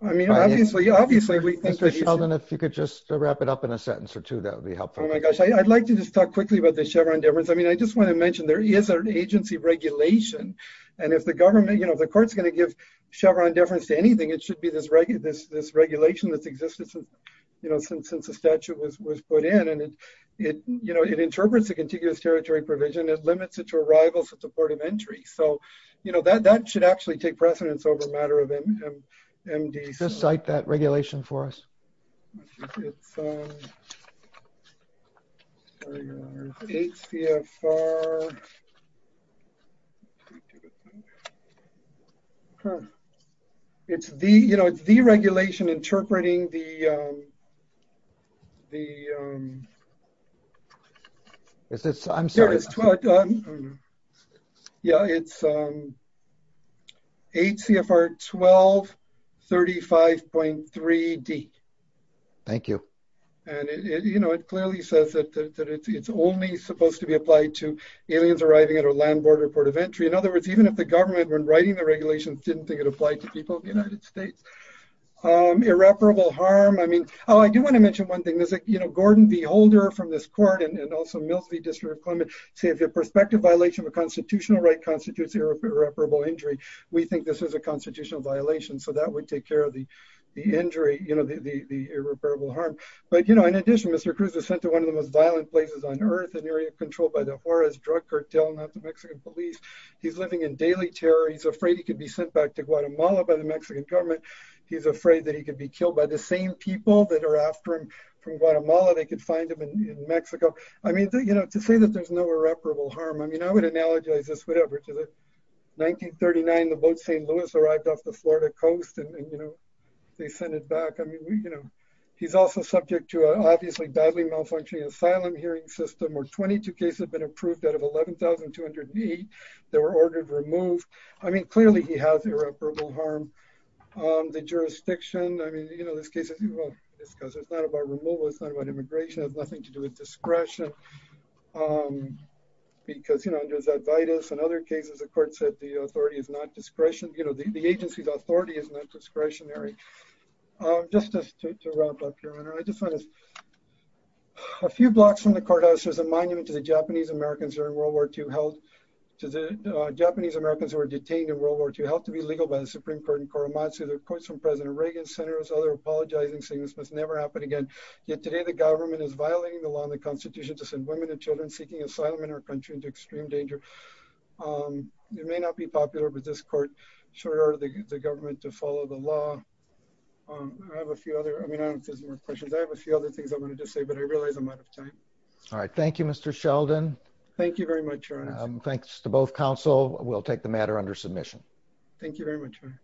I mean, obviously, obviously- Mr. Sheldon, if you could just wrap it up in a sentence or two, that would be helpful. Oh, my gosh. I'd like to just talk quickly about the Chevron difference. I mean, I just want to mention there is an agency regulation, and if the government, the court's going to give Chevron difference to anything, it should be this regulation that's existed since the statute was put in. And it interprets the contiguous territory provision and limits it to arrivals in support of entry. So that should actually take precedence over matter of MD. Just cite that regulation for us. It's the, you know, it's deregulation interpreting the, the- Is this, I'm sorry. It's, yeah, it's HCFR 1235.3D. Thank you. And, you know, it clearly says that it's only supposed to be applied to aliens arriving at a land border port of entry. In other words, even if the government, when writing the regulations, didn't think it applied to people in the United States. Irreparable harm. I mean, oh, I do want to mention one thing. There's like, you know, Gordon B. Holder from this says the perspective violation of a constitutional right constitutes irreparable injury. We think this is a constitutional violation. So that would take care of the injury, you know, the irreparable harm. But, you know, in addition, Mr. Cruz was sent to one of the most violent places on earth, an area controlled by the Juarez drug cartel, not the Mexican police. He's living in daily terror. He's afraid he could be sent back to Guatemala by the Mexican government. He's afraid that he could be killed by the same people that are after him from Guatemala. They could find him in Mexico. I mean, you know, to say that there's no irreparable harm, I mean, I would analogize this, whatever, to 1939, the boat St. Louis arrived off the Florida coast and, you know, they sent it back. I mean, you know, he's also subject to an obviously badly malfunctioning asylum hearing system where 22 cases have been approved out of 11,208 that were ordered removed. I mean, clearly he has irreparable harm on the jurisdiction. I mean, you know, this case, if you will, because it's not about removal, it's not about immigration, it has nothing to do with discretion. Because, you know, under Zadvaitis and other cases, the court said the authority is not discretionary. You know, the agency's authority is not discretionary. Just to wrap up here, I just want to, a few blocks from the courthouse, there's a monument to the Japanese Americans during World War II held, to the Japanese Americans who were detained in World War II, held to be legal by the Supreme Court in Korematsu. There are quotes from President Reagan, senators, other apologizing, saying this must never happen again. Yet today the government is violating the law and the constitution to send women and children seeking asylum in our country into extreme danger. It may not be popular with this court, sure, the government to follow the law. I have a few other, I mean, I don't know if there's more questions, I have a few other things I wanted to say, but I realize I'm out of time. All right. Thank you, Mr. Sheldon. Thank you very much, Ron. Thanks to both counsel. We'll take the matter under submission. Thank you very much, Ron.